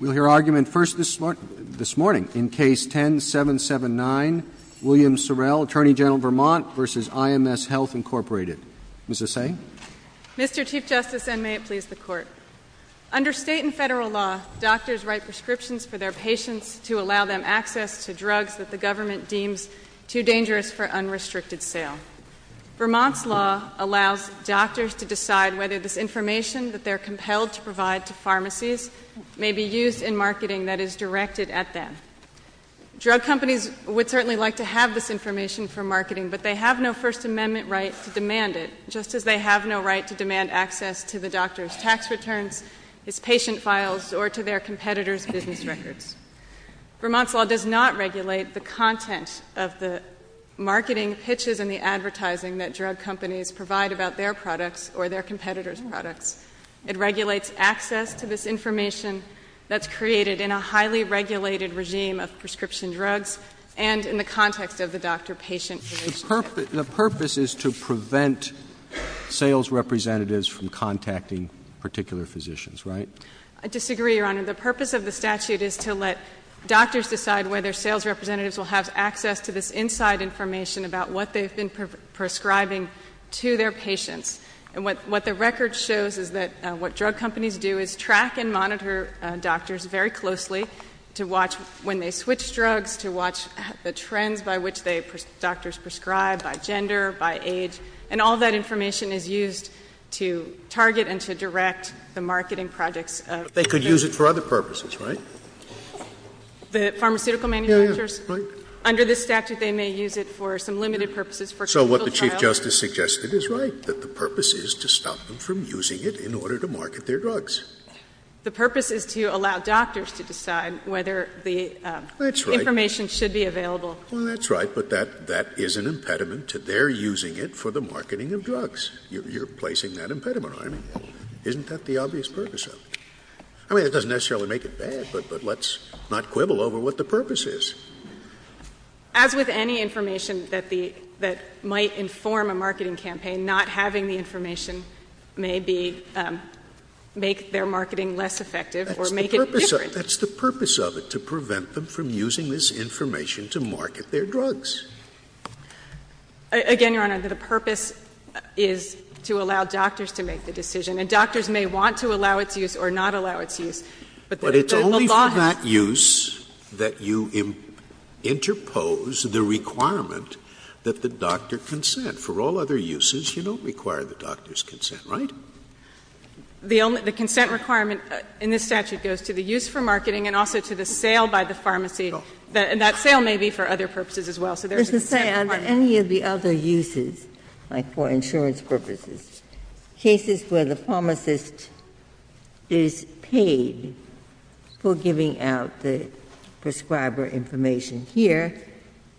Mr. Chief Justice, and may it please the Court, under state and federal law, doctors write prescriptions for their patients to allow them access to drugs that the government deems too dangerous for unrestricted sale. Vermont's law allows doctors to decide whether this information that they are compelled to provide to pharmacies may be used in marketing that is directed at them. Drug companies would certainly like to have this information for marketing, but they have no First Amendment right to demand it, just as they have no right to demand access to the doctor's tax returns, his patient files, or to their competitors' business records. Vermont's law does not regulate the content of the marketing pitches and the advertising that drug companies provide about their products or their competitors' products. It regulates access to this information that's created in a highly regulated regime of prescription drugs and in the context of the doctor-patient relationship. The purpose is to prevent sales representatives from contacting particular physicians, right? I disagree, Your Honor. The purpose of the statute is to let doctors decide whether sales representatives will have access to this inside information about what they've been prescribing to their patients. And what the record shows is that what drug companies do is track and monitor doctors very closely to watch when they switch drugs, to watch the trends by which they, doctors prescribe, by gender, by age. And all that information is used to target and to direct the marketing projects of the companies. They could use it for other purposes, right? The pharmaceutical manufacturers? So what the Chief Justice suggested is right, that the purpose is to stop them from using it in order to market their drugs. The purpose is to allow doctors to decide whether the information should be available. Well, that's right. But that is an impediment to their using it for the marketing of drugs. You're placing that impediment on me. Isn't that the obvious purpose of it? I mean, it doesn't necessarily make it bad, but let's not quibble over what the purpose is. As with any information that the, that might inform a marketing campaign, not having the information may be, make their marketing less effective or make it different. That's the purpose of it, to prevent them from using this information to market their drugs. Again, Your Honor, the purpose is to allow doctors to make the decision. And doctors may want to allow its use or not allow its use. But it's only for that use that you interpose the requirement that the doctor consent. For all other uses, you don't require the doctor's consent, right? The consent requirement in this statute goes to the use for marketing and also to the sale by the pharmacy. And that sale may be for other purposes as well. So there is a consent requirement. Ginsburg. I'm just going to say, under any of the other uses, like for insurance purposes, cases where the pharmacist is paid for giving out the prescriber information here,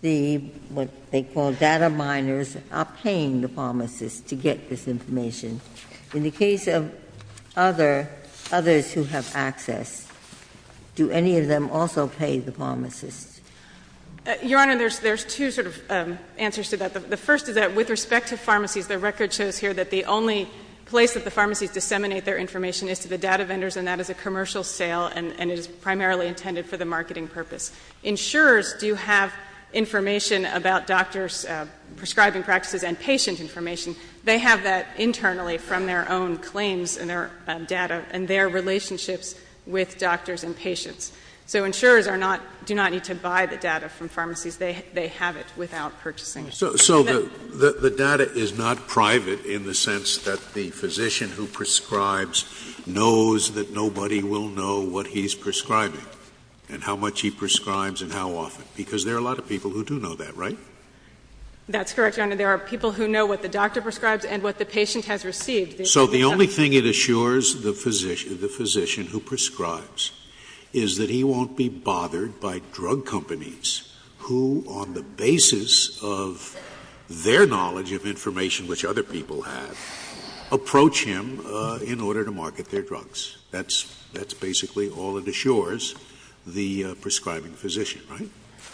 the, what they call data miners, are paying the pharmacist to get this information. In the case of other, others who have access, do any of them also pay the pharmacist? Your Honor, there's two sort of answers to that. The first is that with respect to pharmacies, the record shows here that the only place that the pharmacies disseminate their information is to the data vendors, and that is a commercial sale, and it is primarily intended for the marketing purpose. Insurers do have information about doctors' prescribing practices and patient information. They have that internally from their own claims and their data and their relationships with doctors and patients. So insurers are not, do not need to buy the data from pharmacies. They have it without purchasing it. So the data is not private in the sense that the physician who prescribes knows that nobody will know what he's prescribing and how much he prescribes and how often, because there are a lot of people who do know that, right? That's correct, Your Honor. There are people who know what the doctor prescribes and what the patient has received. So the only thing it assures the physician who prescribes is that he won't be bothered by drug companies who, on the basis of their knowledge of information which other people have, approach him in order to market their drugs. That's basically all it assures the prescribing physician, right?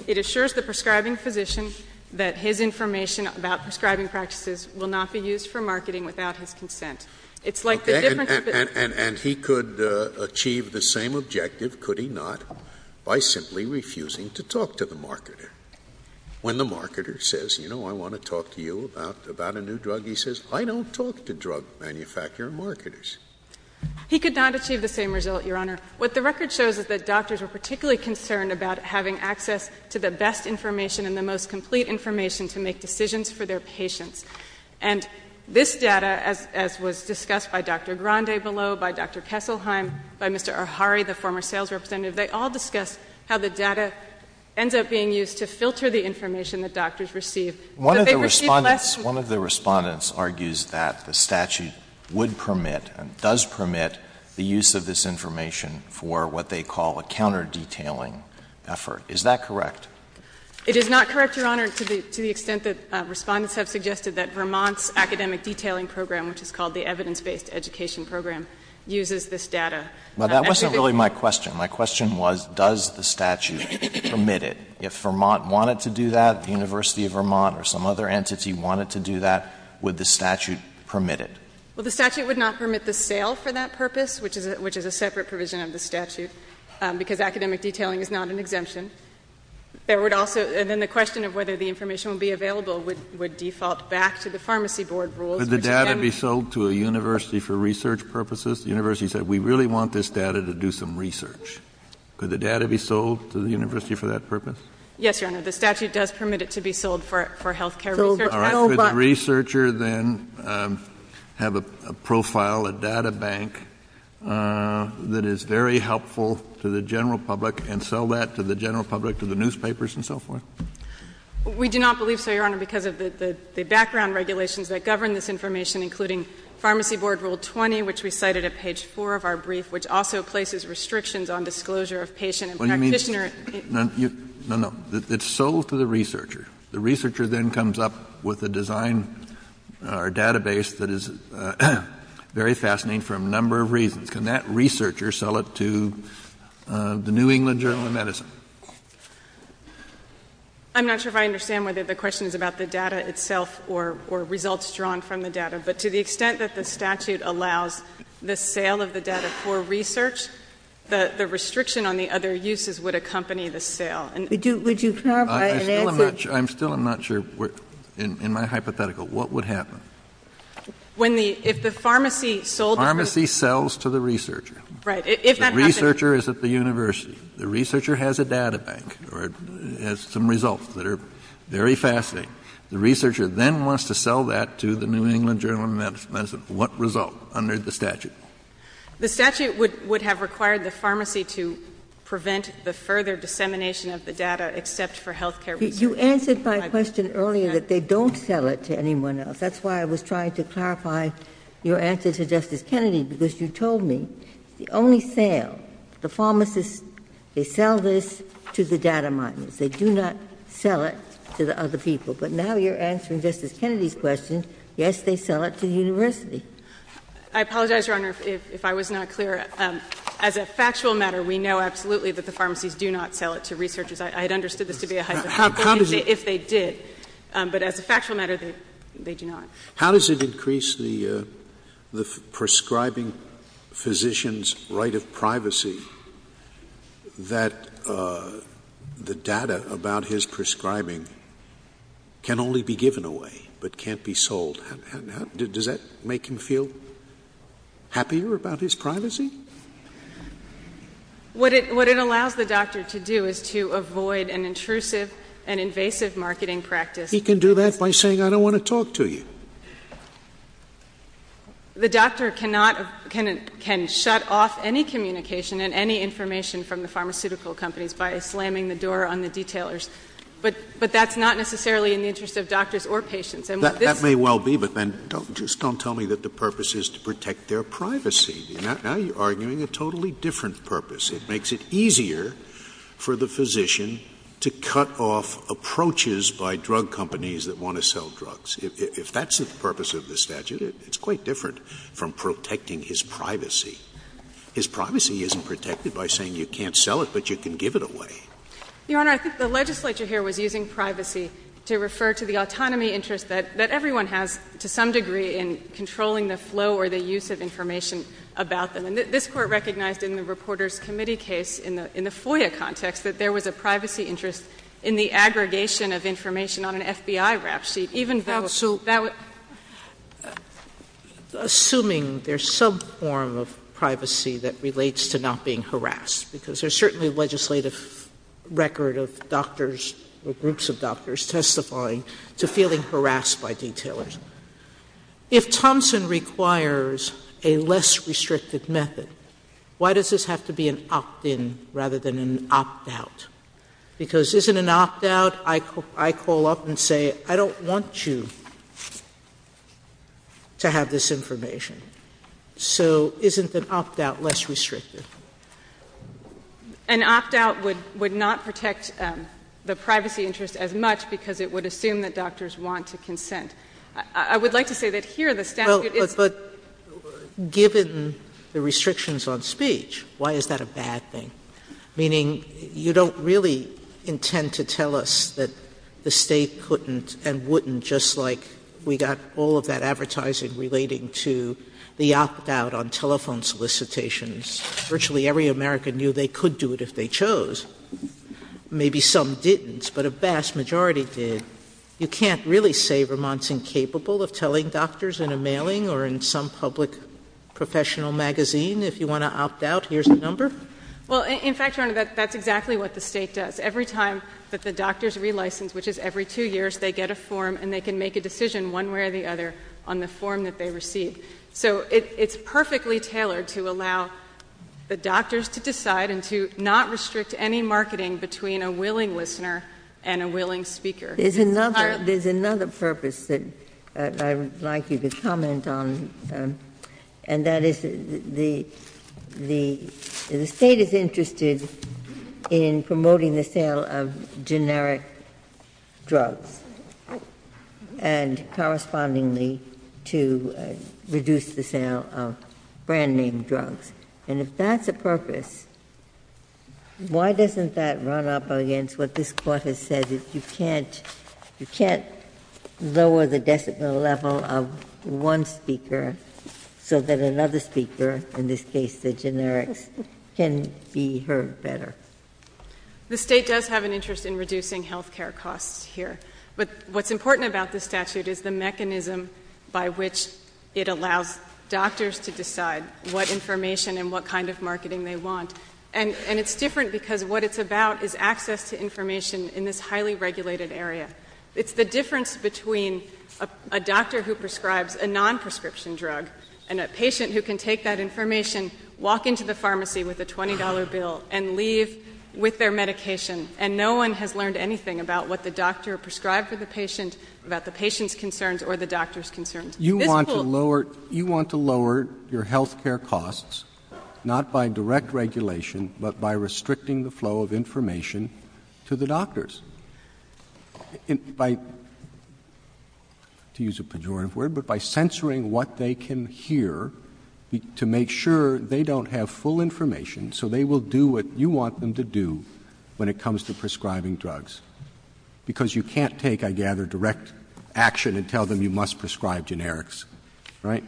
It assures the prescribing physician that his information about prescribing practices will not be used for marketing without his consent. It's like the difference between... Okay. And he could achieve the same objective, could he not, by simply refusing to talk to the marketer. When the marketer says, you know, I want to talk to you about a new drug, he says, I don't talk to drug manufacturer marketers. He could not achieve the same result, Your Honor. What the record shows is that doctors were particularly concerned about having access to the best information and the most complete information to make decisions for their patients. And this data, as was discussed by Dr. Grande below, by Dr. Kesselheim, by Mr. Ahari, the former sales representative, they all discussed how the data ends up being used to filter the information that doctors receive. One of the Respondents, one of the Respondents argues that the statute would permit and does permit the use of this information for what they call a counterdetailing effort. Is that correct? It is not correct, Your Honor, to the extent that Respondents have suggested that Vermont's academic detailing program, which is called the Evidence-Based Education Program, uses this data. But that wasn't really my question. My question was, does the statute permit it? If Vermont wanted to do that, the University of Vermont or some other entity wanted to do that, would the statute permit it? Well, the statute would not permit the sale for that purpose, which is a separate provision of the statute, because academic detailing is not an exemption. There would also — and then the question of whether the information would be available would default back to the pharmacy board rules. Could the data be sold to a university for research purposes? The university said, we really want this data to do some research. Could the data be sold to the university for that purpose? Yes, Your Honor. The statute does permit it to be sold for healthcare research purposes. All right. Could the researcher then have a profile, a data bank, that is very helpful to the general public and sell that to the general public, to the newspapers and so forth? We do not believe so, Your Honor, because of the background regulations that govern this information, including Pharmacy Board Rule 20, which we cited at page 4 of our brief, which also places restrictions on disclosure of patient and practitioner — No, no. It's sold to the researcher. The researcher then comes up with a design or database that is very fascinating for a number of reasons. Can that researcher sell it to the New England Journal of Medicine? I'm not sure if I understand whether the question is about the data itself or results drawn from the data. But to the extent that the statute allows the sale of the data for research, the restriction on the other uses would accompany the sale. I'm still not sure, in my hypothetical, what would happen. When the — if the pharmacy sold — Pharmacy sells to the researcher. Right. If that happens — The researcher is at the university. The researcher has a data bank or has some results that are very fascinating. The researcher then wants to sell that to the New England Journal of Medicine. What result under the statute? The statute would have required the pharmacy to prevent the further dissemination of the data except for health care research. You answered my question earlier that they don't sell it to anyone else. That's why I was trying to clarify your answer to Justice Kennedy, because you told me the only sale, the pharmacists, they sell this to the data miners. They do not sell it to the other people. But now you're answering Justice Kennedy's question. Yes, they sell it to the university. I apologize, Your Honor, if I was not clear. As a factual matter, we know absolutely that the pharmacies do not sell it to researchers. I had understood this to be a hypothetical. How does it — If they did. But as a factual matter, they do not. How does it increase the prescribing physician's right of privacy that the data about his prescribing can only be given away but can't be sold? Does that make him feel happier about his privacy? What it allows the doctor to do is to avoid an intrusive and invasive marketing practice. He can do that by saying, I don't want to talk to you. The doctor cannot — can shut off any communication and any information from the pharmaceutical companies by slamming the door on the detailers. But that's not necessarily in the interest of doctors or patients. That may well be, but then don't — just don't tell me that the purpose is to protect their privacy. Now you're arguing a totally different purpose. It makes it easier for the physician to cut off approaches by drug companies that want to sell drugs. If that's the purpose of the statute, it's quite different from protecting his privacy. His privacy isn't protected by saying you can't sell it, but you can give it away. Your Honor, I think the legislature here was using privacy to refer to the autonomy interest that everyone has to some degree in controlling the flow or the use of information about them. And this Court recognized in the Reporters' Committee case in the FOIA context that there was a privacy interest in the aggregation of information on an FBI rap sheet, even though — Absolutely. Assuming there's some form of privacy that relates to not being harassed, because there's certainly a legislative record of doctors or groups of doctors testifying to feeling harassed by detailers. If Thompson requires a less restrictive method, why does this have to be an opt-in rather than an opt-out? Because isn't an opt-out, I call up and say, I don't want you to have this information. So isn't an opt-out less restrictive? An opt-out would not protect the privacy interest as much because it would assume that doctors want to consent. I would like to say that here the statute is — Well, but given the restrictions on speech, why is that a bad thing? Meaning you don't really intend to tell us that the State couldn't and wouldn't just like we got all of that advertising relating to the opt-out on telephone solicitations. Virtually every American knew they could do it if they chose. Maybe some didn't, but a vast majority did. You can't really say Vermont's incapable of telling doctors in a mailing or in some public professional magazine, if you want to opt out, here's the number? Well, in fact, Your Honor, that's exactly what the State does. Every time that the doctors relicense, which is every two years, they get a form and they can make a decision one way or the other on the form that they receive. So it's perfectly tailored to allow the doctors to decide and to not restrict any marketing between a willing listener and a willing speaker. There's another purpose that I would like you to comment on, and that is the State is interested in promoting the sale of generic drugs and correspondingly to reduce the sale of brand-name drugs. And if that's the purpose, why doesn't that run up against what this Court has said, that you can't lower the decibel level of one speaker so that another speaker, in this case the generics, can be heard better? The State does have an interest in reducing health care costs here. But what's important about this statute is the mechanism by which it allows doctors to decide what information and what kind of marketing they want. And it's different because what it's about is access to information in this highly regulated area. It's the difference between a doctor who prescribes a non-prescription drug and a patient who can take that information, walk into the pharmacy with a $20 bill, and leave with their medication, and no one has learned anything about what the doctor prescribed for the patient, about the patient's concerns or the doctor's concerns. You want to lower your health care costs, not by direct regulation, but by restricting the flow of information to the doctors, to use a pejorative word, but by censoring what they can hear to make sure they don't have full information so they will do what you want them to do when it comes to prescribing drugs. Because you can't take, I gather, direct action and tell them you must prescribe generics, right?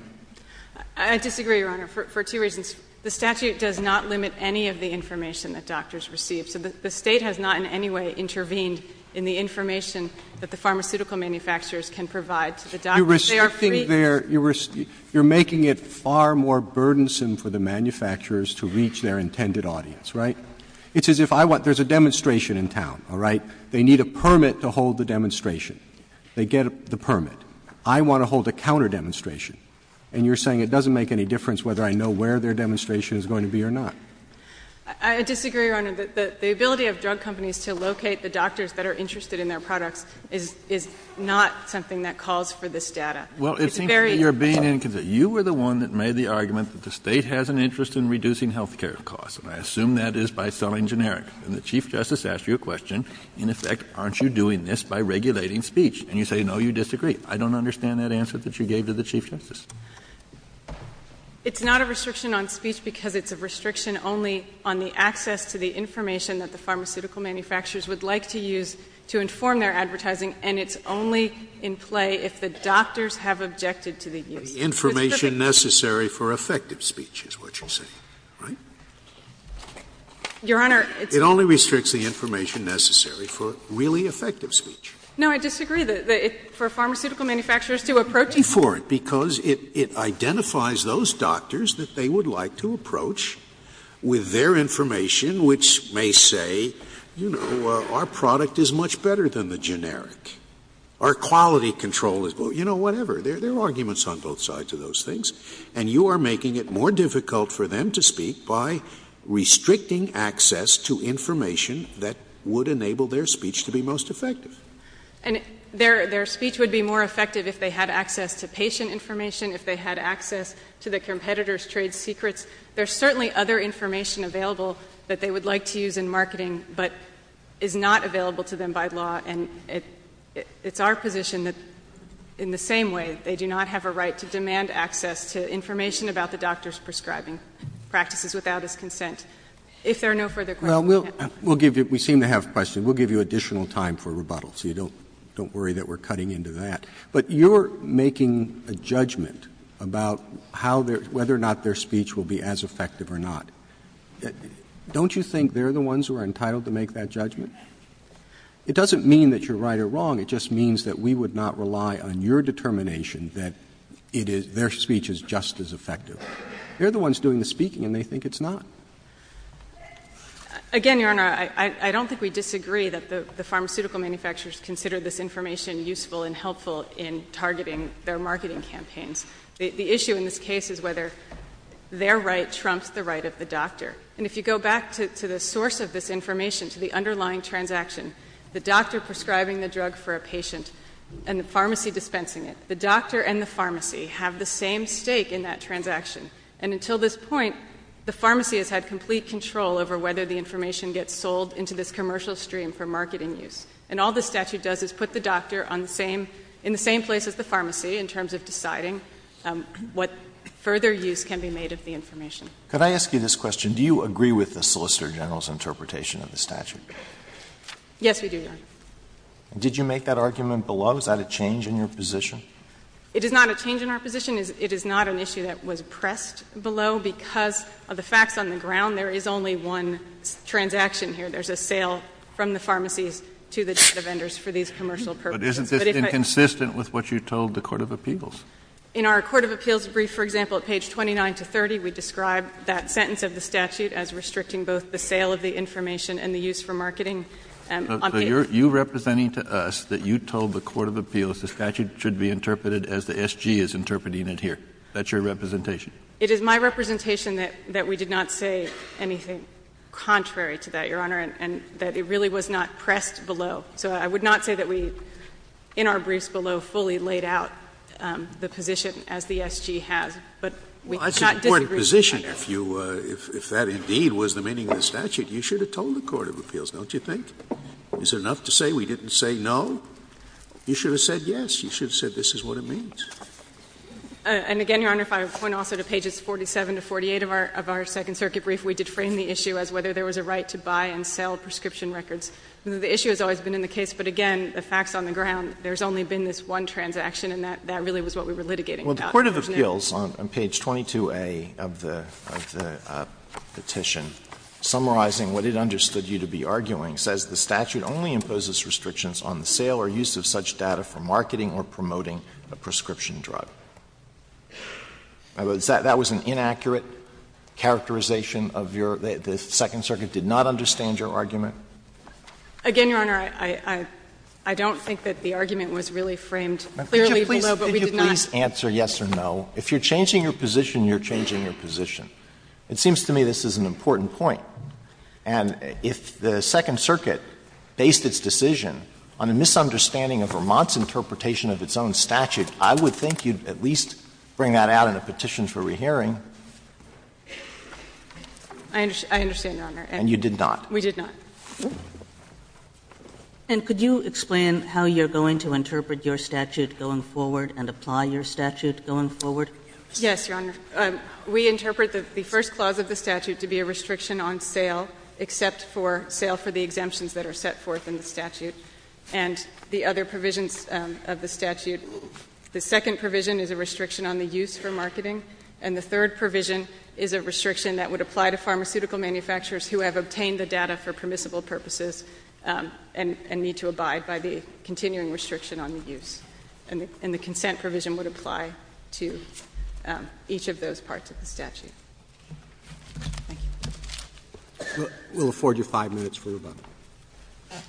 I disagree, Your Honor, for two reasons. The statute does not limit any of the information that doctors receive. So the State has not in any way intervened in the information that the pharmaceutical manufacturers can provide to the doctors. You're restricting their, you're making it far more burdensome for the manufacturers to reach their intended audience, right? It's as if I want, there's a demonstration in town, all right? They need a permit to hold the demonstration. They get the permit. I want to hold a counterdemonstration. And you're saying it doesn't make any difference whether I know where their demonstration is going to be or not. I disagree, Your Honor. The ability of drug companies to locate the doctors that are interested in their data is very important. Kennedy, you were the one that made the argument that the State has an interest in reducing health care costs. And I assume that is by selling generics. And the Chief Justice asked you a question. In effect, aren't you doing this by regulating speech? And you say no, you disagree. I don't understand that answer that you gave to the Chief Justice. It's not a restriction on speech because it's a restriction only on the access to the information that the pharmaceutical manufacturers would like to use to inform their advertising. And it's only in play if the doctors have objected to the use. It's a restriction. Scalia, information necessary for effective speech is what you're saying, right? Your Honor, it's a restriction. It only restricts the information necessary for really effective speech. No, I disagree. For pharmaceutical manufacturers to approach it. It's a restriction for it because it identifies those doctors that they would like to approach with their information, which may say, you know, our product is much better than the generic. Our quality control is, you know, whatever. There are arguments on both sides of those things. And you are making it more difficult for them to speak by restricting access to information that would enable their speech to be most effective. And their speech would be more effective if they had access to patient information, if they had access to the competitor's trade secrets. There's certainly other information available that they would like to use in And it's our position that in the same way, they do not have a right to demand access to information about the doctor's prescribing practices without his consent. If there are no further questions. Well, we'll give you — we seem to have questions. We'll give you additional time for rebuttal, so you don't worry that we're cutting into that. But you're making a judgment about how their — whether or not their speech will be as effective or not. Don't you think they're the ones who are entitled to make that judgment? It doesn't mean that you're right or wrong. It just means that we would not rely on your determination that it is — their speech is just as effective. They're the ones doing the speaking, and they think it's not. Again, Your Honor, I don't think we disagree that the pharmaceutical manufacturers consider this information useful and helpful in targeting their marketing campaigns. The issue in this case is whether their right trumps the right of the doctor. And if you go back to the source of this information, to the underlying transaction, the doctor prescribing the drug for a patient and the pharmacy dispensing it, the doctor and the pharmacy have the same stake in that transaction. And until this point, the pharmacy has had complete control over whether the information gets sold into this commercial stream for marketing use. And all the statute does is put the doctor on the same — in the same place as the pharmacy in terms of deciding what further use can be made of the information. Could I ask you this question? Do you agree with the Solicitor General's interpretation of the statute? Yes, we do, Your Honor. And did you make that argument below? Is that a change in your position? It is not a change in our position. It is not an issue that was pressed below because of the facts on the ground. There is only one transaction here. There's a sale from the pharmacies to the data vendors for these commercial purposes. But isn't this inconsistent with what you told the court of appeals? In our court of appeals brief, for example, at page 29 to 30, we describe that sentence of the statute as restricting both the sale of the information and the use for marketing on paper. So you're representing to us that you told the court of appeals the statute should be interpreted as the SG is interpreting it here. That's your representation. It is my representation that we did not say anything contrary to that, Your Honor, and that it really was not pressed below. So I would not say that we, in our briefs below, fully laid out the position as the SG has. But we cannot disagree with that. Well, that's an important position. If that indeed was the meaning of the statute, you should have told the court of appeals, don't you think? Is it enough to say we didn't say no? You should have said yes. You should have said this is what it means. And again, Your Honor, if I point also to pages 47 to 48 of our Second Circuit brief, we did frame the issue as whether there was a right to buy and sell prescription records. The issue has always been in the case. But again, the facts on the ground, there's only been this one transaction and that really was what we were litigating about. Well, the court of appeals on page 22A of the petition, summarizing what it understood you to be arguing, says the statute only imposes restrictions on the sale or use of such data for marketing or promoting a prescription drug. That was an inaccurate characterization of your — the Second Circuit did not understand your argument. Again, Your Honor, I don't think that the argument was really framed clearly below, but we did not. Could you please answer yes or no? If you're changing your position, you're changing your position. It seems to me this is an important point. And if the Second Circuit based its decision on a misunderstanding of Vermont's interpretation of its own statute, I would think you'd at least bring that out in a petition for rehearing. I understand, Your Honor. And you did not. We did not. And could you explain how you're going to interpret your statute going forward and apply your statute going forward? Yes, Your Honor. We interpret the first clause of the statute to be a restriction on sale, except for sale for the exemptions that are set forth in the statute and the other provisions of the statute. The second provision is a restriction on the use for marketing, and the third provision is a restriction that would apply to pharmaceutical manufacturers who have obtained the data for permissible purposes and need to abide by the continuing restriction on the use. And the consent provision would apply to each of those parts of the statute. Thank you. We'll afford you five minutes for rebuttal. Okay.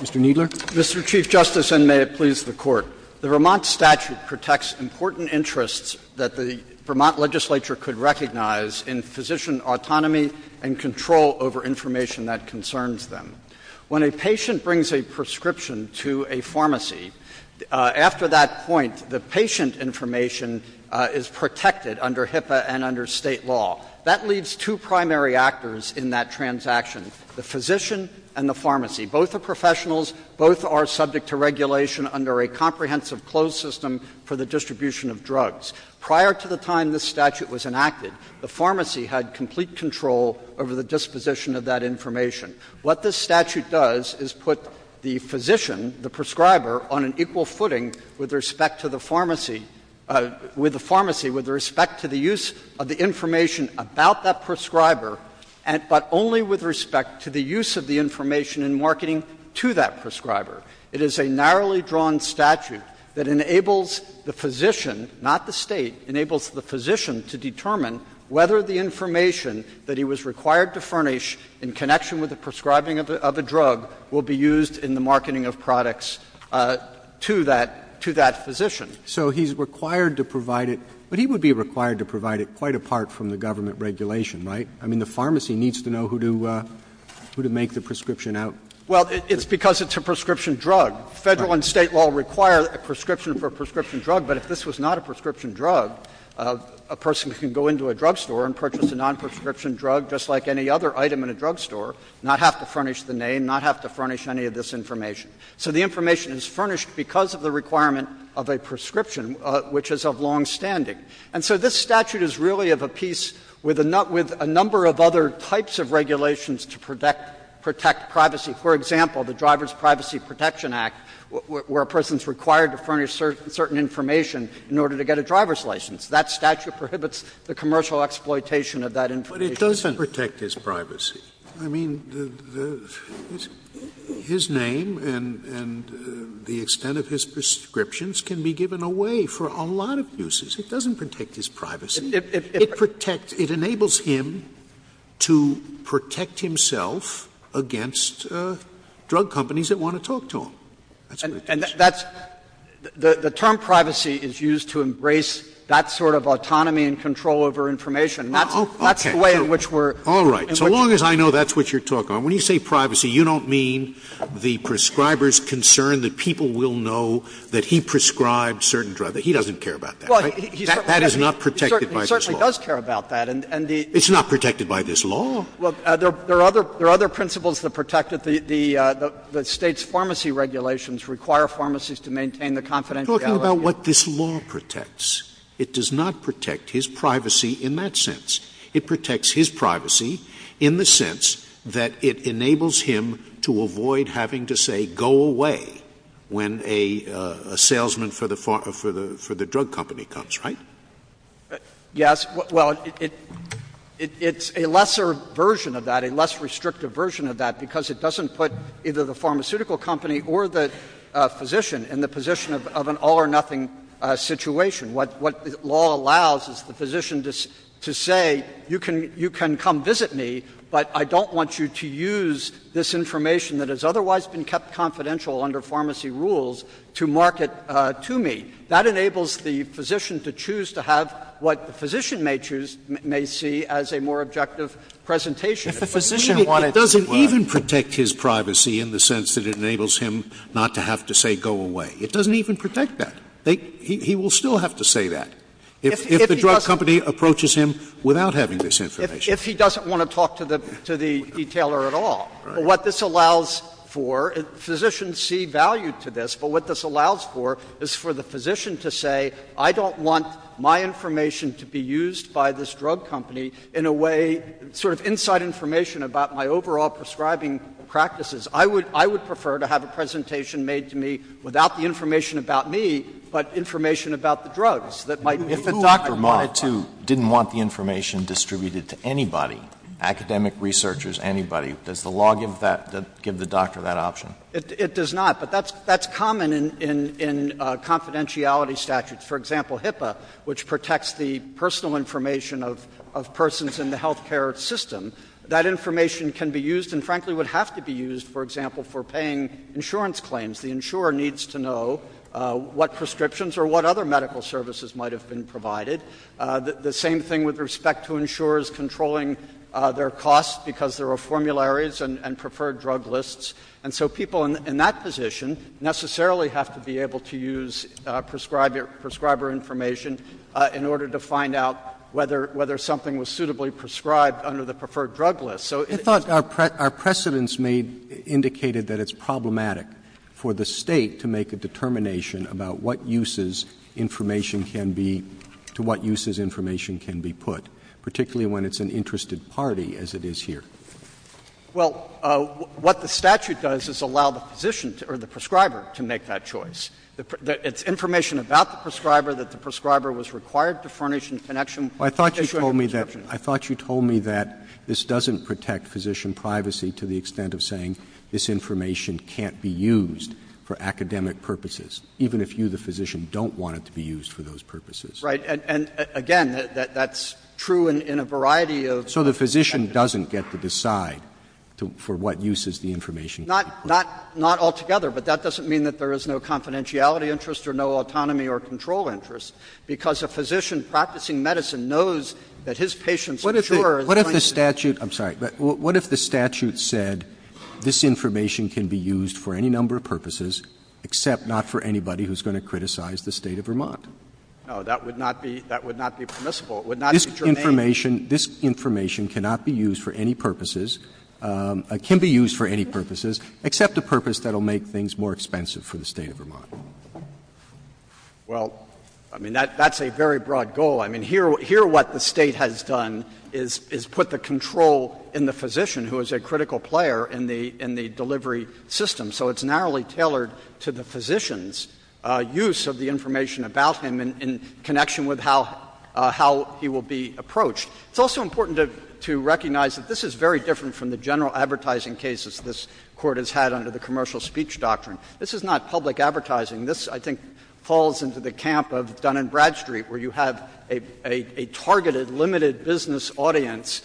Mr. Kneedler. Mr. Chief Justice, and may it please the Court. The Vermont statute protects important interests that the Vermont legislature could recognize in physician autonomy and control over information that concerns them. When a patient brings a prescription to a pharmacy, after that point, the patient information is protected under HIPAA and under State law. That leaves two primary actors in that transaction, the physician and the pharmacy. Both are professionals. Both are subject to regulation under a comprehensive closed system for the distribution of drugs. Prior to the time this statute was enacted, the pharmacy had complete control over the disposition of that information. What this statute does is put the physician, the prescriber, on an equal footing with respect to the pharmacy, with the pharmacy with respect to the use of the information about that prescriber, but only with respect to the use of the information in marketing to that prescriber. It is a narrowly drawn statute that enables the physician, not the State, enables the physician to determine whether the information that he was required to furnish in connection with the prescribing of a drug will be used in the marketing of products to that physician. Roberts. So he's required to provide it, but he would be required to provide it quite apart from the government regulation, right? I mean, the pharmacy needs to know who to make the prescription out. Well, it's because it's a prescription drug. Federal and State law require a prescription for a prescription drug. But if this was not a prescription drug, a person can go into a drug store and purchase a non-prescription drug, just like any other item in a drug store, not have to furnish the name, not have to furnish any of this information. So the information is furnished because of the requirement of a prescription, which is of longstanding. And so this statute is really of a piece with a number of other types of regulations to protect privacy. For example, the Driver's Privacy Protection Act, where a person is required to furnish certain information in order to get a driver's license. That statute prohibits the commercial exploitation of that information. But it doesn't protect his privacy. I mean, his name and the extent of his prescriptions can be given away for a lot of uses. It doesn't protect his privacy. It protects, it enables him to protect himself against drug companies that want to talk to him. And that's the term privacy is used to embrace that sort of autonomy and control over information. That's the way in which we're in. Scalia. So long as I know that's what you're talking about, when you say privacy, you don't mean the prescriber's concern that people will know that he prescribed certain drugs. He doesn't care about that, right? That is not protected by this law. He certainly does care about that. It's not protected by this law. Well, there are other principles that protect it. The State's pharmacy regulations require pharmacies to maintain the confidentiality of the information. Talking about what this law protects. It does not protect his privacy in that sense. It protects his privacy in the sense that it enables him to avoid having to say go away when a salesman for the drug company comes, right? Yes. Well, it's a lesser version of that, a less restrictive version of that, because it doesn't put either the pharmaceutical company or the physician in the position of an all or nothing situation. What the law allows is the physician to say you can come visit me, but I don't want you to use this information that has otherwise been kept confidential under pharmacy rules to market to me. That enables the physician to choose to have what the physician may choose, may see as a more objective presentation. If a physician wanted to. It doesn't even protect his privacy in the sense that it enables him not to have to say go away. It doesn't even protect that. He will still have to say that if the drug company approaches him without having this information. If he doesn't want to talk to the detailer at all. What this allows for, physicians see value to this, but what this allows for is for the physician to say I don't want my information to be used by this drug company in a way, sort of inside information about my overall prescribing practices. I would prefer to have a presentation made to me without the information about me, but information about the drugs that might be. If a doctor wanted to, didn't want the information distributed to anybody, academic researchers, anybody, does the law give the doctor that option? It does not. But that's common in confidentiality statutes. For example, HIPAA, which protects the personal information of persons in the healthcare system, that information can be used and frankly would have to be used, for example, for paying insurance claims. The insurer needs to know what prescriptions or what other medical services might have been provided. The same thing with respect to insurers controlling their costs because there are formularies and preferred drug lists. And so people in that position necessarily have to be able to use prescriber information in order to find out whether something was suitably prescribed under the preferred drug list. So it's not — Our precedents made indicated that it's problematic for the State to make a determination about what uses information can be — to what uses information can be put, particularly when it's an interested party as it is here. Well, what the statute does is allow the physician or the prescriber to make that choice. It's information about the prescriber that the prescriber was required to furnish in connection with the issue of prescription. I thought you told me that this doesn't protect physician privacy to the extent of saying this information can't be used for academic purposes, even if you, the physician, don't want it to be used for those purposes. Right. And again, that's true in a variety of — So the physician doesn't get to decide for what uses the information can be put. Not altogether. But that doesn't mean that there is no confidentiality interest or no autonomy or control interest, because a physician practicing medicine knows that his patient's insurer is going to be — What if the statute — I'm sorry. What if the statute said this information can be used for any number of purposes, except not for anybody who's going to criticize the State of Vermont? No. That would not be permissible. It would not be germane. This information cannot be used for any purposes — can be used for any purposes except a purpose that will make things more expensive for the State of Vermont. Well, I mean, that's a very broad goal. I mean, here what the State has done is put the control in the physician, who is a critical player in the delivery system. So it's narrowly tailored to the physician's use of the information about him in connection with how he will be approached. It's also important to recognize that this is very different from the general advertising cases this Court has had under the commercial speech doctrine. This is not public advertising. This, I think, falls into the camp of Dun & Bradstreet, where you have a targeted, limited business audience,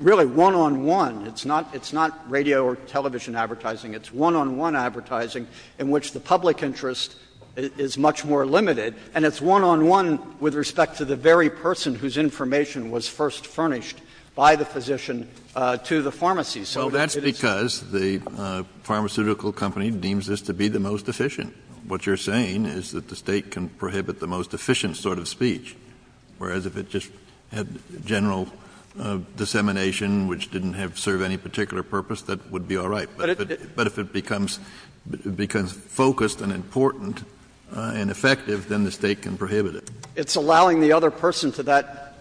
really one-on-one. It's not radio or television advertising. It's one-on-one advertising in which the public interest is much more limited. And it's one-on-one with respect to the very person whose information was first furnished by the physician to the pharmacy. So it is the same. Kennedy So that's because the pharmaceutical company deems this to be the most efficient. What you're saying is that the State can prohibit the most efficient sort of speech, whereas if it just had general dissemination which didn't have to serve any particular purpose, that would be all right. But if it becomes focused and important and effective, then the State can prohibit it. Kneedler It's allowing the other person to that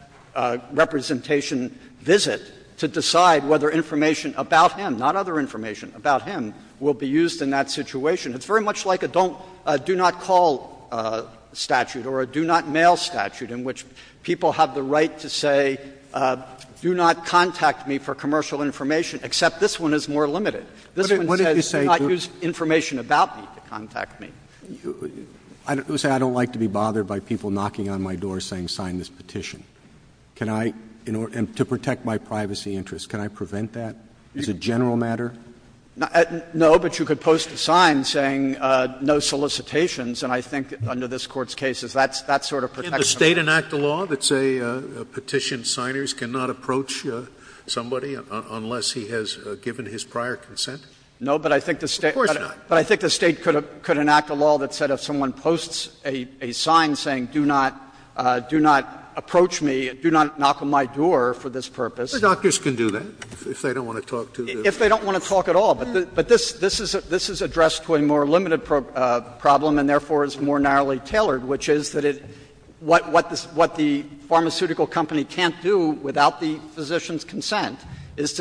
representation visit to decide whether information about him, not other information about him, will be used in that situation. It's very much like a don't do not call statute or a do not mail statute in which people have the right to say, do not contact me for commercial information, except this one is more limited. This one says do not use information about me to contact me. Roberts I don't like to be bothered by people knocking on my door saying sign this petition. Can I, in order to protect my privacy interests, can I prevent that as a general matter? Kneedler No, but you could post a sign saying no solicitations, and I think under this Court's case that's sort of protection. Scalia The State enact a law that say petition signers cannot approach somebody unless he has given his prior consent? Kneedler No, but I think the State could enact a law that said if someone posts a sign saying do not approach me, do not knock on my door for this purpose. Scalia The doctors can do that if they don't want to talk to the patient. Kneedler If they don't want to talk at all. But this is addressed to a more limited problem and therefore is more narrowly tailored, which is that what the pharmaceutical company can't do without the physician's consent is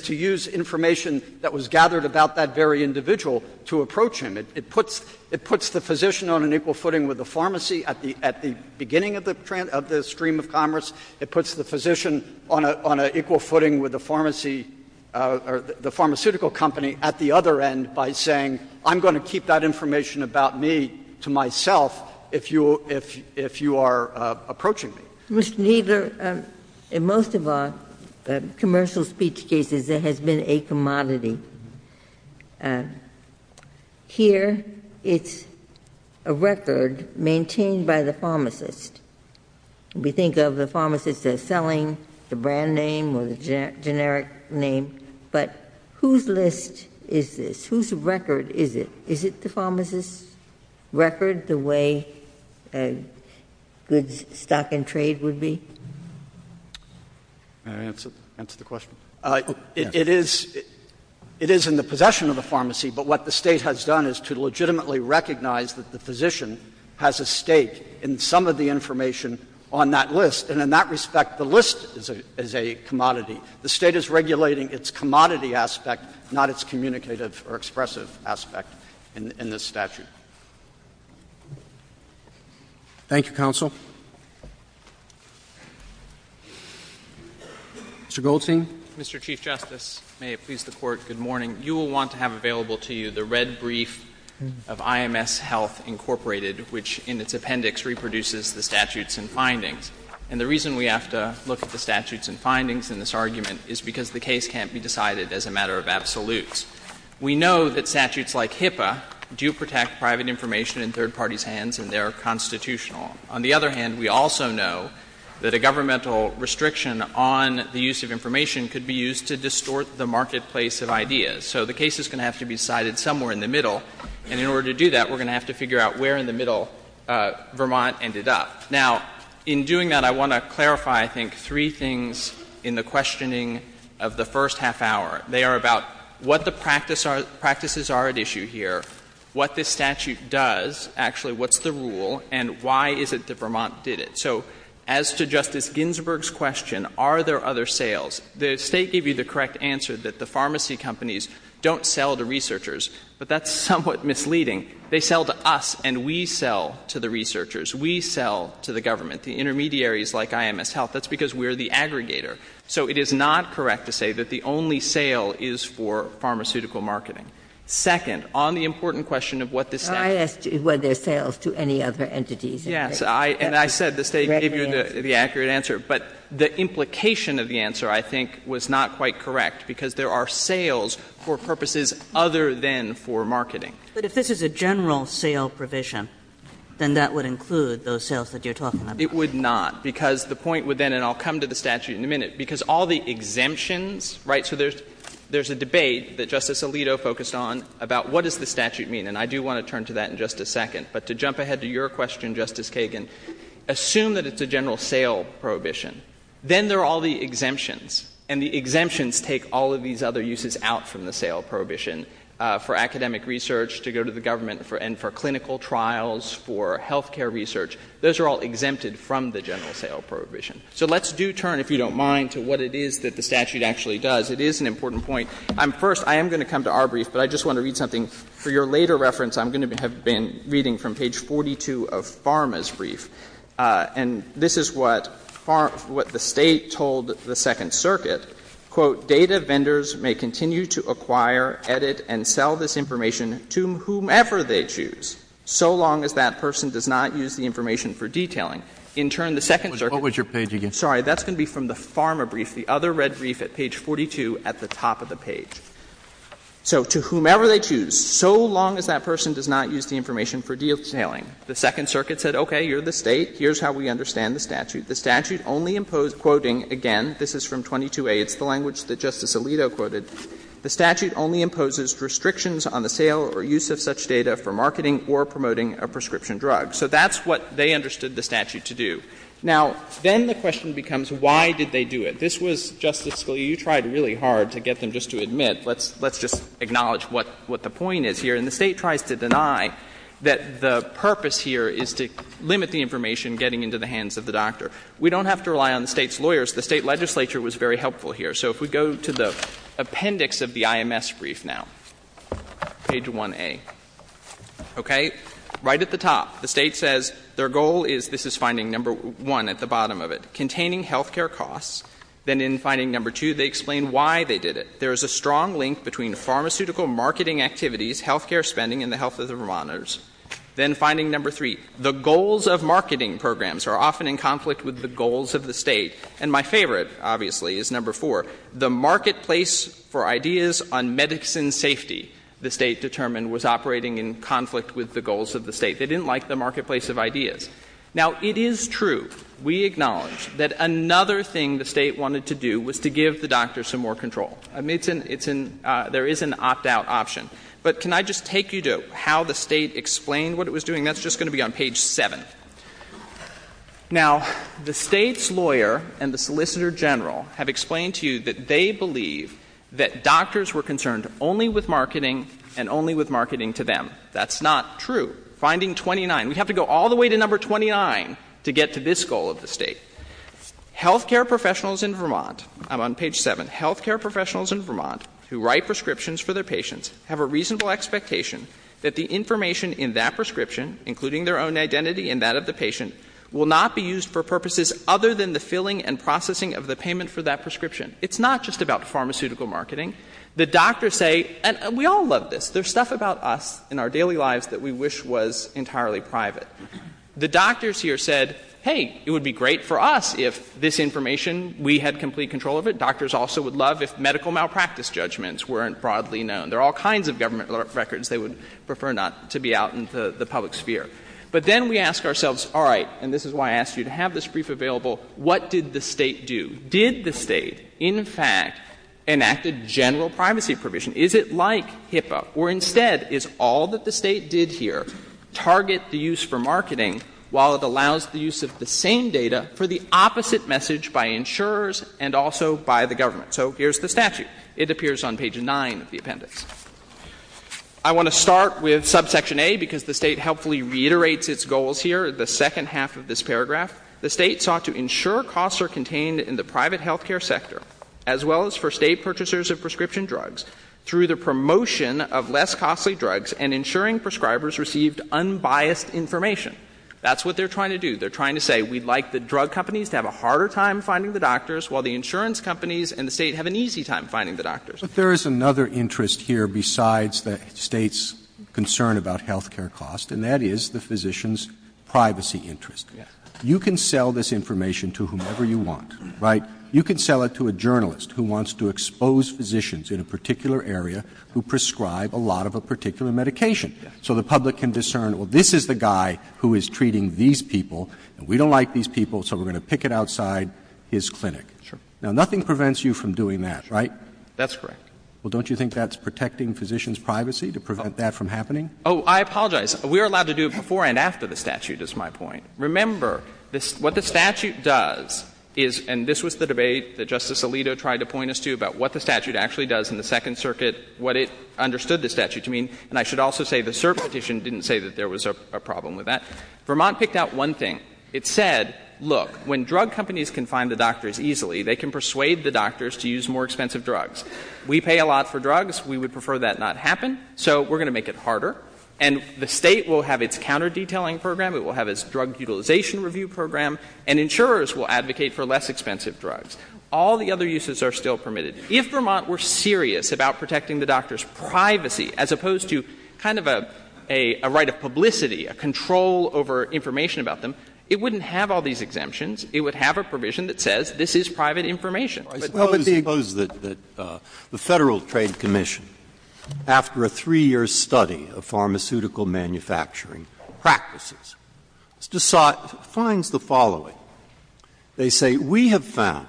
to use information that was gathered about that very individual to approach him. It puts the physician on an equal footing with the pharmacy at the beginning of the stream of commerce. It puts the physician on an equal footing with the pharmacy or the pharmaceutical company at the other end by saying I'm going to keep that information about me to myself if you are approaching me. Ginsburg Mr. Kneedler, in most of our commercial speech cases, there has been a commodity. Here, it's a record maintained by the pharmacist. We think of the pharmacist as selling the brand name or the generic name, but whose list is this? Whose record is it? Is it the pharmacist's record, the way goods, stock and trade would be? Kneedler May I answer the question? It is in the possession of the pharmacy, but what the State has done is to legitimately recognize that the physician has a stake in some of the information on that list, and in that respect, the list is a commodity. The State is regulating its commodity aspect, not its communicative or expressive aspect. I would be willing to consider a case to do so, but I wouldn't be willing to consider I would be willing to consider a case to do so in this statute. Roberts Thank you, counsel. Mr. Goldstein. Goldstein Mr. Chief Justice, may it please the Court, good morning. You will want to have available to you the red brief of IMS Health Incorporated, which in its appendix reproduces the statutes and findings. We know that statutes like HIPAA do protect private information in third parties' hands and they are constitutional. On the other hand, we also know that a governmental restriction on the use of information could be used to distort the marketplace of ideas. So the case is going to have to be decided somewhere in the middle, and in order to do that, we're going to have to figure out where in the middle Vermont ended up. Now, in doing that, I want to clarify, I think, three things in the questioning of the first half hour. They are about what the practices are at issue here, what this statute does, actually, what's the rule, and why is it that Vermont did it. So as to Justice Ginsburg's question, are there other sales, the State gave you the correct answer that the pharmacy companies don't sell to researchers, but that's somewhat misleading. They sell to us and we sell to the researchers. We sell to the government. The intermediaries like IMS Health, that's because we're the aggregator. So it is not correct to say that the only sale is for pharmaceutical marketing. Second, on the important question of what this statute does. Kagan, I asked you whether there's sales to any other entities. Yes, and I said the State gave you the accurate answer. But the implication of the answer, I think, was not quite correct, because there are sales for purposes other than for marketing. But if this is a general sale provision, then that would include those sales that you're talking about. It would not, because the point would then, and I'll come to the statute in a minute, because all the exemptions, right, so there's a debate that Justice Alito focused on about what does the statute mean. And I do want to turn to that in just a second. But to jump ahead to your question, Justice Kagan, assume that it's a general sale prohibition. Then there are all the exemptions. And the exemptions take all of these other uses out from the sale prohibition for academic research to go to the government and for clinical trials, for health care research. Those are all exempted from the general sale prohibition. So let's do turn, if you don't mind, to what it is that the statute actually does. It is an important point. First, I am going to come to our brief, but I just want to read something. For your later reference, I'm going to have been reading from page 42 of Pharma's brief. And this is what the State told the Second Circuit, Quote, ''Data vendors may continue to acquire, edit and sell this information to whomever they choose, so long as that person does not use the information for detailing.'' In turn, the Second Circuit What was your page again? Sorry. That's going to be from the Pharma brief, the other red brief at page 42 at the top of the page. So to whomever they choose, so long as that person does not use the information for detailing. The Second Circuit said, okay, you're the State, here's how we understand the statute. The statute only imposed, quoting again, this is from 22a, it's the language that Justice Alito quoted, The statute only imposes restrictions on the sale or use of such data for marketing or promoting a prescription drug. So that's what they understood the statute to do. Now, then the question becomes, why did they do it? This was, Justice Scalia, you tried really hard to get them just to admit. Let's just acknowledge what the point is here. And the State tries to deny that the purpose here is to limit the information getting into the hands of the doctor. We don't have to rely on the State's lawyers. The State legislature was very helpful here. So if we go to the appendix of the IMS brief now, page 1a, okay, right at the top, the State says their goal is, this is finding number one at the bottom of it, containing health care costs. Then in finding number two, they explain why they did it. There is a strong link between pharmaceutical marketing activities, health care spending, and the health of the Vermonters. Then finding number three, the goals of marketing programs are often in conflict with the goals of the State. And my favorite, obviously, is number four, the marketplace for ideas on medicine safety, the State determined, was operating in conflict with the goals of the State. They didn't like the marketplace of ideas. Now, it is true, we acknowledge, that another thing the State wanted to do was to give the doctor some more control. I mean, it's an — there is an opt-out option. But can I just take you to how the State explained what it was doing? That's just going to be on page 7. Now, the State's lawyer and the Solicitor General have explained to you that they believe that doctors were concerned only with marketing and only with marketing to them. That's not true. Finding 29, we have to go all the way to number 29 to get to this goal of the State. Health care professionals in Vermont — I'm on page 7 — health care professionals in Vermont who write prescriptions for their patients have a reasonable expectation will not be used for purposes other than the filling and processing of the payment for that prescription. It's not just about pharmaceutical marketing. The doctors say — and we all love this. There's stuff about us in our daily lives that we wish was entirely private. The doctors here said, hey, it would be great for us if this information, we had complete control of it. Doctors also would love if medical malpractice judgments weren't broadly known. There are all kinds of government records they would prefer not to be out in the public sphere. But then we ask ourselves, all right — and this is why I asked you to have this brief available — what did the State do? Did the State, in fact, enact a general privacy provision? Is it like HIPAA? Or instead, is all that the State did here target the use for marketing while it allows the use of the same data for the opposite message by insurers and also by the government? So here's the statute. It appears on page 9 of the appendix. I want to start with subsection A, because the State helpfully reiterates its goals here in the second half of this paragraph. The State sought to ensure costs are contained in the private health care sector, as well as for State purchasers of prescription drugs, through the promotion of less costly drugs and ensuring prescribers received unbiased information. That's what they're trying to do. They're trying to say, we'd like the drug companies to have a harder time finding the doctors, while the insurance companies and the State have an easy time finding the doctors. Roberts' But there is another interest here besides the State's concern about health care costs, and that is the physician's privacy interest. You can sell this information to whomever you want, right? You can sell it to a journalist who wants to expose physicians in a particular area who prescribe a lot of a particular medication, so the public can discern, well, this is the guy who is treating these people, and we don't like these people, so we're going to pick it outside his clinic. Now, nothing prevents you from doing that, right? That's correct. Roberts' Well, don't you think that's protecting physicians' privacy to prevent that from happening? Oh, I apologize. We are allowed to do it before and after the statute, is my point. Remember, what the statute does is — and this was the debate that Justice Alito tried to point us to about what the statute actually does in the Second Circuit, what it understood the statute to mean, and I should also say the cert petition didn't say that there was a problem with that. Vermont picked out one thing. It said, look, when drug companies can find the doctors easily, they can persuade the doctors to use more expensive drugs. We pay a lot for drugs. We would prefer that not happen, so we're going to make it harder. And the state will have its counter-detailing program, it will have its drug utilization review program, and insurers will advocate for less expensive drugs. All the other uses are still permitted. If Vermont were serious about protecting the doctors' privacy, as opposed to kind of a right of publicity, a control over information about them, it wouldn't have all these exemptions. It would have a provision that says this is private information. But the big question is, is that the Federal Trade Commission, after a 3-year study of pharmaceutical manufacturing practices, finds the following. They say, we have found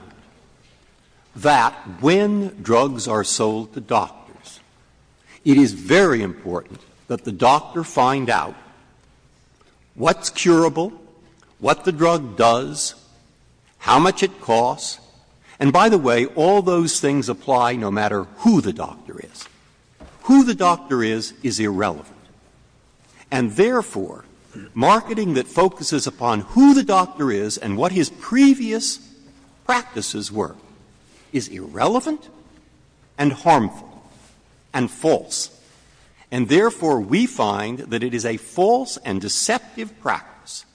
that when drugs are sold to doctors, it is very important that the doctor find out what's curable, what the drug does, how much it costs. And by the way, all those things apply no matter who the doctor is. Who the doctor is, is irrelevant. And therefore, marketing that focuses upon who the doctor is and what his previous practices were is irrelevant and harmful and false. And therefore, we find that it is a false and deceptive practice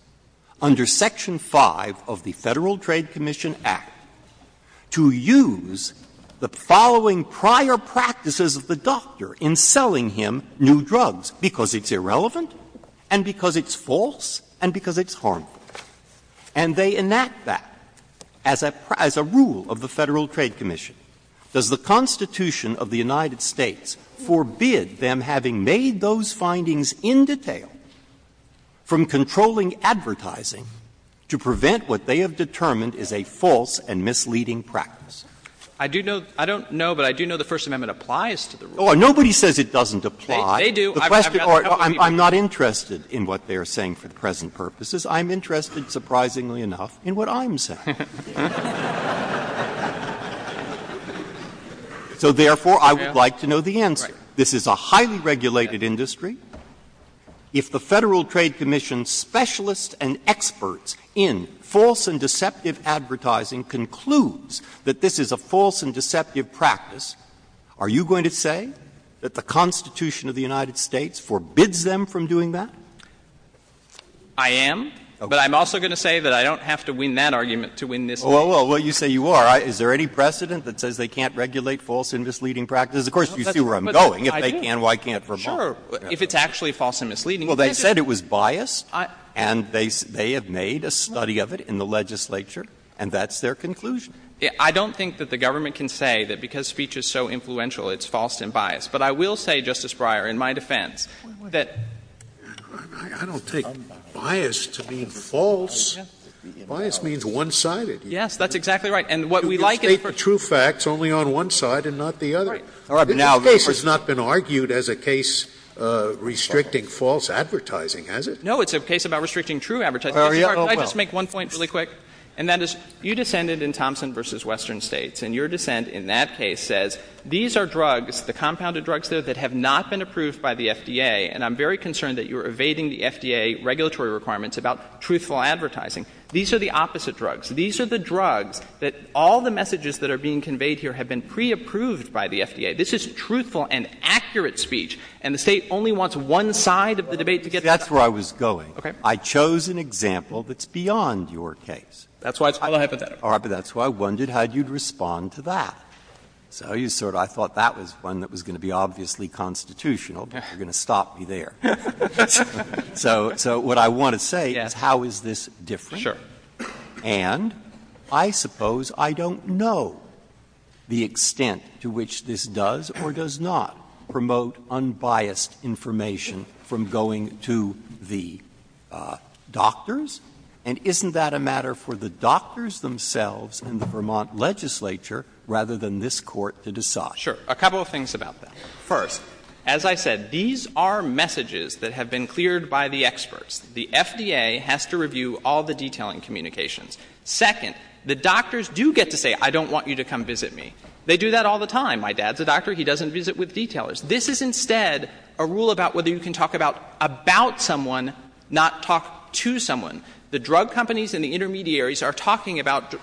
under Section V of the Federal Trade Commission Act to use the following prior practices of the doctor in selling him new drugs, because it's irrelevant and because it's false and because it's harmful. And they enact that as a rule of the Federal Trade Commission. Does the Constitution of the United States forbid them, having made those findings in detail, from controlling advertising to prevent what they have determined is a false and misleading practice? I do know the First Amendment applies to the rule. Nobody says it doesn't apply. They do. I'm not interested in what they are saying for the present purposes. I'm interested, surprisingly enough, in what I'm saying. So therefore, I would like to know the answer. This is a highly regulated industry. If the Federal Trade Commission specialists and experts in false and deceptive advertising concludes that this is a false and deceptive practice, are you going to say that the Constitution of the United States forbids them from doing that? I am. But I'm also going to say that I don't have to win that argument to win this one. Well, you say you are. Is there any precedent that says they can't regulate false and misleading practices? Of course, you see where I'm going. If they can, why can't Vermont? Sure. If it's actually false and misleading. Well, they said it was biased, and they have made a study of it in the legislature, and that's their conclusion. I don't think that the government can say that because speech is so influential, it's false and biased. But I will say, Justice Breyer, in my defense, that the Constitution of the United States states false, biased means one-sided. Yes, that's exactly right. And what we like is for- You state the true facts only on one side and not the other. Right. All right. But now, there's a point- This case has not been argued as a case restricting false advertising, has it? No. It's a case about restricting true advertising. Oh, yeah? Well, yes. Could I just make one point really quick, and that is, you descended in Thompson v. Western States, and your dissent in that case says, these are drugs, the compounded drugs there, that have not been approved by the FDA, and I'm very concerned that you're evading the FDA regulatory requirements about truthful advertising. These are the opposite drugs. These are the drugs that all the messages that are being conveyed here have been preapproved by the FDA. This is truthful and accurate speech, and the State only wants one side of the debate to get- That's where I was going. Okay. I chose an example that's beyond your case. That's why it's called a hypothetical. All right. But that's why I wondered how you'd respond to that. So you sort of – I thought that was one that was going to be obviously constitutional, but you're going to stop me there. So what I want to say is, how is this different? And I suppose I don't know the extent to which this does or does not promote unbiased information from going to the doctors. And isn't that a matter for the doctors themselves and the Vermont legislature rather than this Court to decide? Sure. A couple of things about that. First, as I said, these are messages that have been cleared by the experts. The FDA has to review all the detailing communications. Second, the doctors do get to say, I don't want you to come visit me. They do that all the time. My dad's a doctor. He doesn't visit with detailers. This is instead a rule about whether you can talk about about someone, not talk to someone. The drug companies and the intermediaries are talking about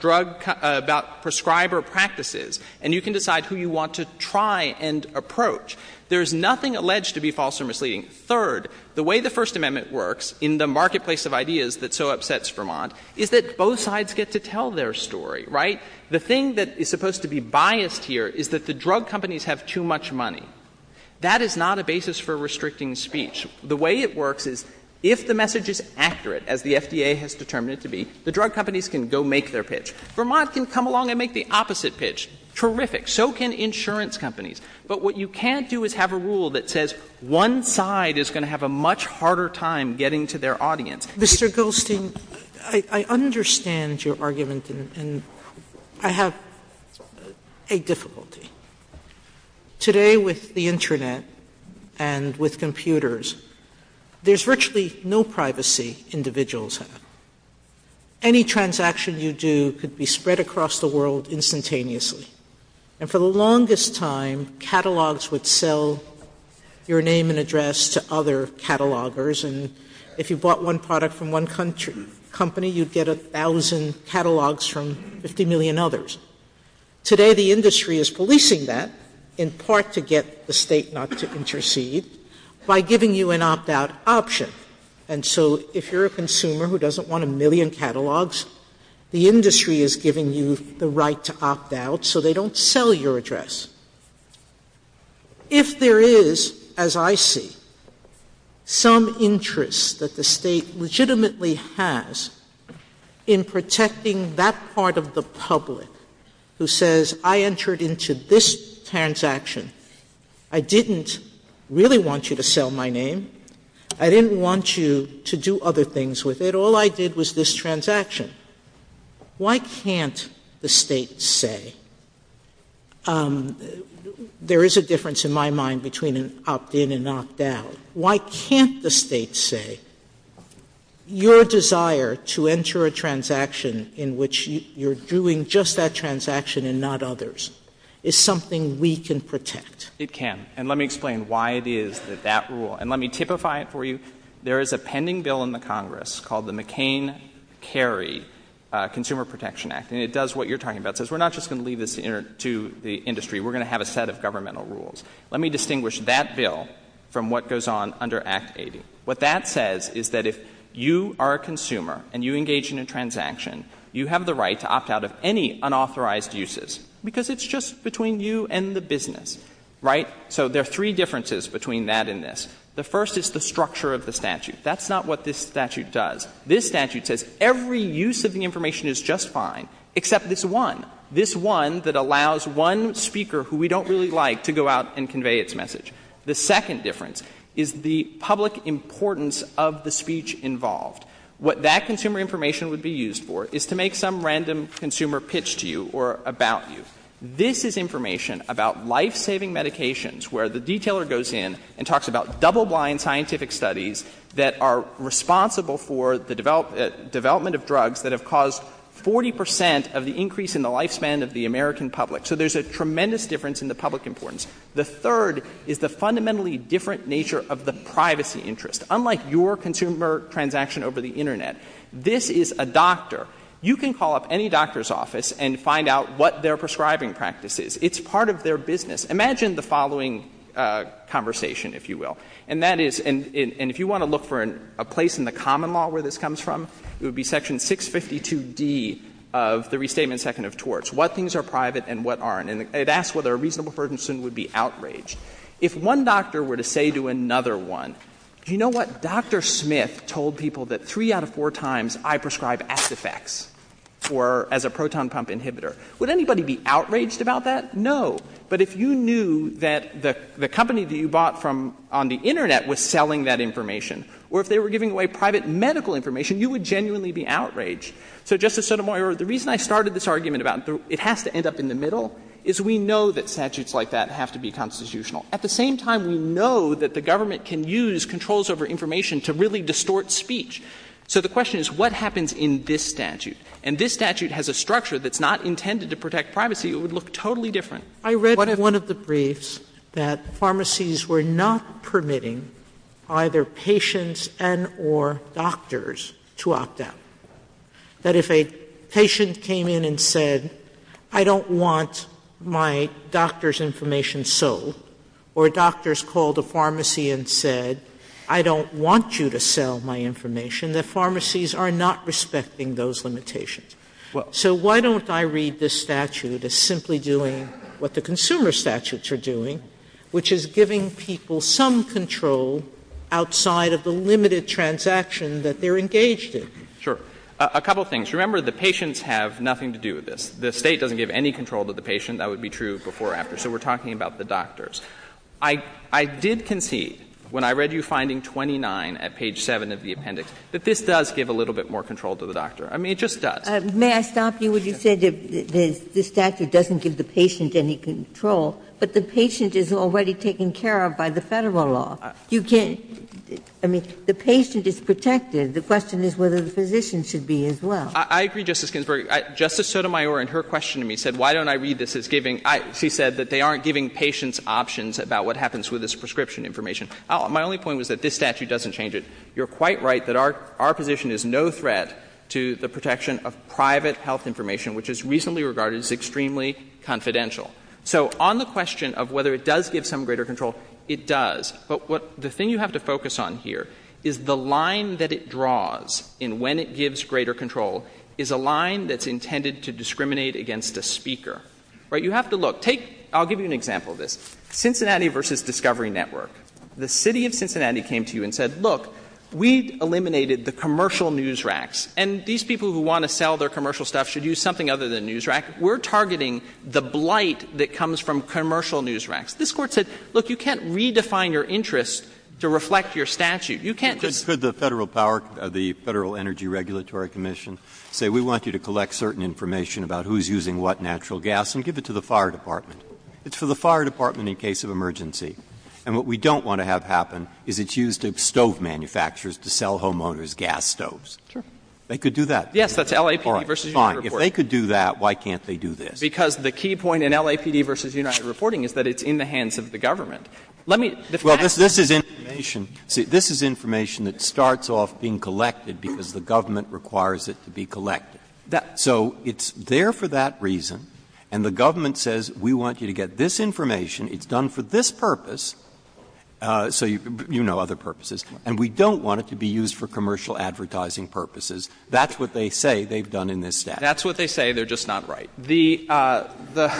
drug – about prescriber practices, and you can decide who you want to try and approach. There is nothing alleged to be false or misleading. Third, the way the First Amendment works in the marketplace of ideas that so upsets Vermont is that both sides get to tell their story, right? The thing that is supposed to be biased here is that the drug companies have too much money. That is not a basis for restricting speech. The way it works is, if the message is accurate, as the FDA has determined it to be, the drug companies can go make their pitch. Vermont can come along and make the opposite pitch. Terrific. So can insurance companies. But what you can't do is have a rule that says one side is going to have a much harder time getting to their audience. Sotomayor, I understand your argument, and I have a difficulty. Today, with the Internet and with computers, there is virtually no privacy individuals have. Any transaction you do could be spread across the world instantaneously. And for the longest time, catalogs would sell your name and address to other catalogers, and if you bought one product from one company, you would get a thousand catalogs from 50 million others. Today, the industry is policing that, in part to get the state not to intercede, by giving you an opt-out option. And so if you're a consumer who doesn't want a million catalogs, the industry is giving you the right to opt out so they don't sell your address. If there is, as I see, some interest that the state legitimately has in protecting that part of the public who says, I entered into this transaction, I didn't really want you to sell my name. I didn't want you to do other things with it. All I did was this transaction. Why can't the State say, there is a difference in my mind between an opt-in and an opt-out. Why can't the State say, your desire to enter a transaction in which you're doing just that transaction and not others is something we can protect? It can. And let me explain why it is that that rule, and let me typify it for you. There is a pending bill in the Congress called the McCain-Carey Consumer Protection Act, and it does what you're talking about. It says we're not just going to leave this to the industry. We're going to have a set of governmental rules. Let me distinguish that bill from what goes on under Act 80. What that says is that if you are a consumer and you engage in a transaction, you have the right to opt out of any unauthorized uses because it's just between you and the business. Right? So there are three differences between that and this. The first is the structure of the statute. That's not what this statute does. This statute says every use of the information is just fine, except this one, this one that allows one speaker who we don't really like to go out and convey its message. The second difference is the public importance of the speech involved. What that consumer information would be used for is to make some random consumer pitch to you or about you. This is information about life-saving medications where the detailer goes in and talks about double-blind scientific studies that are responsible for the development of drugs that have caused 40 percent of the increase in the lifespan of the American public. So there's a tremendous difference in the public importance. The third is the fundamentally different nature of the privacy interest. Unlike your consumer transaction over the Internet, this is a doctor. You can call up any doctor's office and find out what their prescribing practice is. It's part of their business. Imagine the following conversation, if you will. And that is — and if you want to look for a place in the common law where this comes from, it would be Section 652d of the Restatement Second of Torts, what things are private and what aren't. And it asks whether a reasonable person would be outraged. If one doctor were to say to another one, do you know what, Dr. Smith told people that three out of four times I prescribe Acefex as a proton pump inhibitor, would anybody be outraged about that? No. But if you knew that the company that you bought from on the Internet was selling that information, or if they were giving away private medical information, you would genuinely be outraged. So, Justice Sotomayor, the reason I started this argument about it has to end up in the middle is we know that statutes like that have to be constitutional. At the same time, we know that the government can use controls over information to really distort speech. So the question is, what happens in this statute? And this statute has a structure that's not intended to protect privacy. It would look totally different. Sotomayor, I read one of the briefs that pharmacies were not permitting either patients and or doctors to opt out, that if a patient came in and said, I don't want my doctor's information sold, or doctors called a pharmacy and said, I don't want you to sell my information, that pharmacies are not respecting those limitations. So why don't I read this statute as simply doing what the consumer statutes are doing, which is giving people some control outside of the limited transaction that they're engaged in? Sure. A couple of things. Remember, the patients have nothing to do with this. The State doesn't give any control to the patient. That would be true before or after. So we're talking about the doctors. I did concede, when I read you finding 29 at page 7 of the appendix, that this does give a little bit more control to the doctor. I mean, it just does. May I stop you when you said this statute doesn't give the patient any control, but the patient is already taken care of by the Federal law. You can't – I mean, the patient is protected. The question is whether the physician should be as well. I agree, Justice Ginsburg. Justice Sotomayor, in her question to me, said, why don't I read this as giving – she said that they aren't giving patients options about what happens with this prescription information. My only point was that this statute doesn't change it. You're quite right that our position is no threat to the protection of private health information, which is reasonably regarded as extremely confidential. So on the question of whether it does give some greater control, it does. But what – the thing you have to focus on here is the line that it draws in when it gives greater control is a line that's intended to discriminate against a speaker. Right? So you have to look. Take – I'll give you an example of this. Cincinnati v. Discovery Network, the city of Cincinnati came to you and said, look, we eliminated the commercial news racks, and these people who want to sell their commercial stuff should use something other than news rack. We're targeting the blight that comes from commercial news racks. This Court said, look, you can't redefine your interests to reflect your statute. You can't just – Could the Federal power – the Federal Energy Regulatory Commission say we want you to collect certain information about who's using what natural gas and give it to the fire department? It's for the fire department in case of emergency. And what we don't want to have happen is it's used to stove manufacturers to sell homeowners gas stoves. They could do that. Yes, that's LAPD v. United Reporting. All right, fine. If they could do that, why can't they do this? Because the key point in LAPD v. United Reporting is that it's in the hands of the government. Let me – Well, this is information – see, this is information that starts off being collected because the government requires it to be collected. So it's there for that reason, and the government says we want you to get this information. It's done for this purpose, so you know other purposes. And we don't want it to be used for commercial advertising purposes. That's what they say they've done in this statute. That's what they say. They're just not right. The –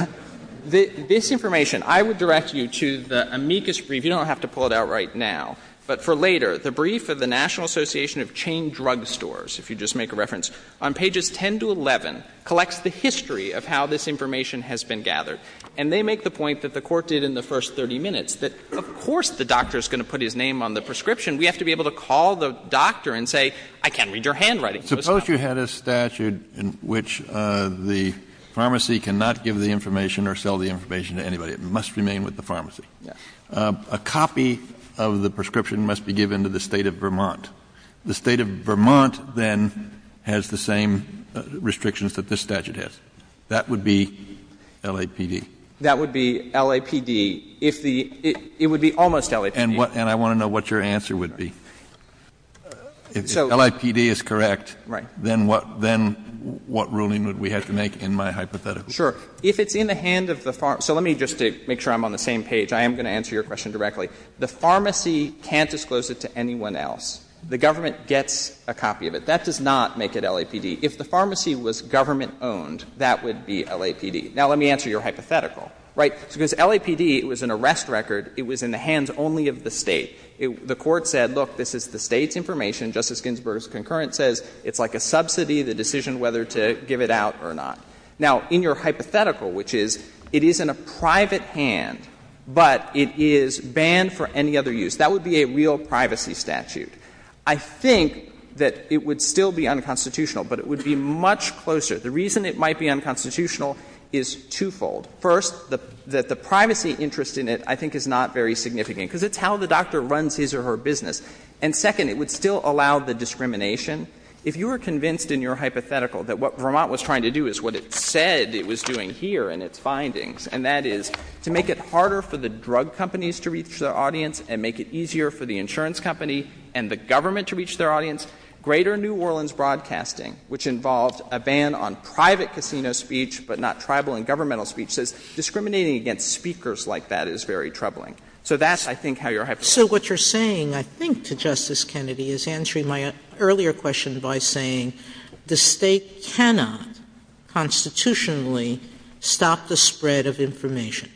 this information, I would direct you to the amicus brief. You don't have to pull it out right now. But for later, the brief of the National Association of Chain Drug Stores, if you just make a reference, on pages 10 to 11, collects the history of how this information has been gathered. And they make the point that the Court did in the first 30 minutes, that of course the doctor is going to put his name on the prescription. We have to be able to call the doctor and say, I can't read your handwriting. Suppose you had a statute in which the pharmacy cannot give the information or sell the information to anybody. It must remain with the pharmacy. A copy of the prescription must be given to the State of Vermont. The State of Vermont then has the same restrictions that this statute has. That would be LAPD. That would be LAPD. If the – it would be almost LAPD. And what – and I want to know what your answer would be. If LAPD is correct, then what – then what ruling would we have to make in my hypothetical? Sure. If it's in the hand of the pharmacy – so let me just, to make sure I'm on the same page, I am going to answer your question directly. The pharmacy can't disclose it to anyone else. The government gets a copy of it. That does not make it LAPD. If the pharmacy was government-owned, that would be LAPD. Now, let me answer your hypothetical, right? Because LAPD, it was an arrest record. It was in the hands only of the State. The Court said, look, this is the State's information. Justice Ginsburg's concurrent says it's like a subsidy, the decision whether to give it out or not. Now, in your hypothetical, which is it is in a private hand, but it is banned for any other use, that would be a real privacy statute. I think that it would still be unconstitutional, but it would be much closer. The reason it might be unconstitutional is twofold. First, that the privacy interest in it, I think, is not very significant, because it's how the doctor runs his or her business. And second, it would still allow the discrimination. If you were convinced in your hypothetical that what Vermont was trying to do is what it said it was doing here in its findings, and that is to make it harder for the drug companies to reach their audience and make it easier for the insurance company and the government to reach their audience, Greater New Orleans Broadcasting, which involved a ban on private casino speech, but not tribal and governmental speech, says discriminating against speakers like that is very troubling. So that's, I think, how your hypothetical is. Sotomayor So what you're saying, I think, to Justice Kennedy, is answering my earlier question by saying the State cannot constitutionally stop the spread of information.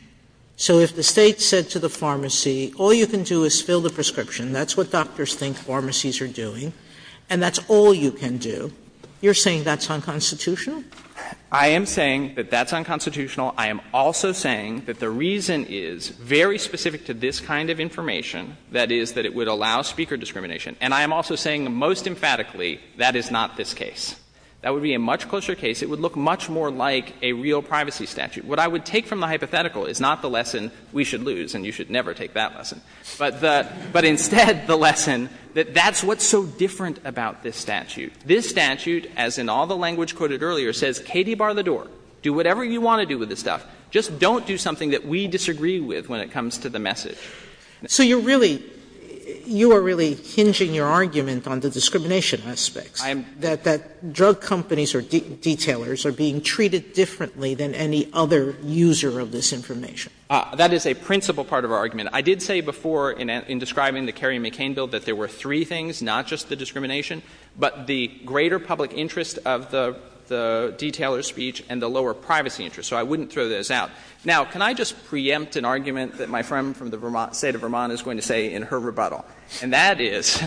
So if the State said to the pharmacy, all you can do is fill the prescription, that's what doctors think pharmacies are doing, and that's all you can do, you're saying that's unconstitutional? I am saying that that's unconstitutional. I am also saying that the reason is very specific to this kind of information, that is, that it would allow speaker discrimination. And I am also saying most emphatically that is not this case. That would be a much closer case. It would look much more like a real privacy statute. What I would take from the hypothetical is not the lesson we should lose, and you should never take that lesson. But instead the lesson that that's what's so different about this statute. This statute, as in all the language quoted earlier, says Katie, bar the door, do whatever you want to do with this stuff, just don't do something that we disagree with when it comes to the message. Sotomayor So you're really — you are really hinging your argument on the discrimination aspects, that drug companies or detailers are being treated differently than any other user of this information. That is a principal part of our argument. I did say before in describing the Kerry-McCain bill that there were three things, not just the discrimination, but the greater public interest of the detailer's speech and the lower privacy interest. So I wouldn't throw those out. Now, can I just preempt an argument that my friend from the State of Vermont is going to say in her rebuttal? And that is,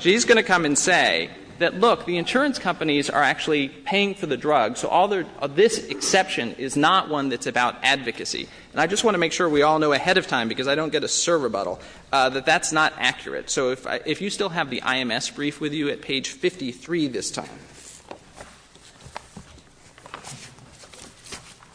she's going to come and say that, look, the insurance companies are actually paying for the drugs, so all their — this exception is not one that's about advocacy. And I just want to make sure we all know ahead of time, because I don't get a server rebuttal, that that's not accurate. So if you still have the I.M.S. brief with you at page 53 this time.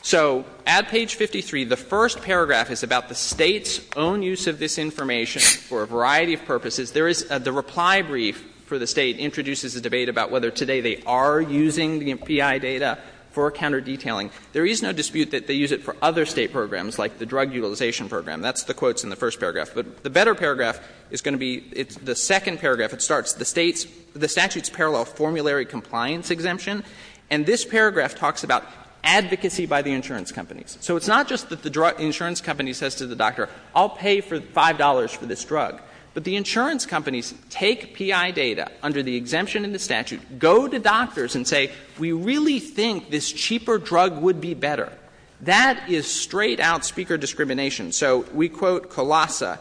So at page 53, the first paragraph is about the State's own use of this information for a variety of purposes. There is — the reply brief for the State introduces a debate about whether today they are using the PI data for counterdetailing. There is no dispute that they use it for other State programs, like the drug utilization program. That's the quotes in the first paragraph. But the better paragraph is going to be — it's the second paragraph. It starts, the State's — the statute's parallel formulary compliance exemption. And this paragraph talks about advocacy by the insurance companies. So it's not just that the insurance company says to the doctor, I'll pay for $5 for this drug. But the insurance companies take PI data under the exemption in the statute, go to That is straight-out speaker discrimination. So we quote Colassa,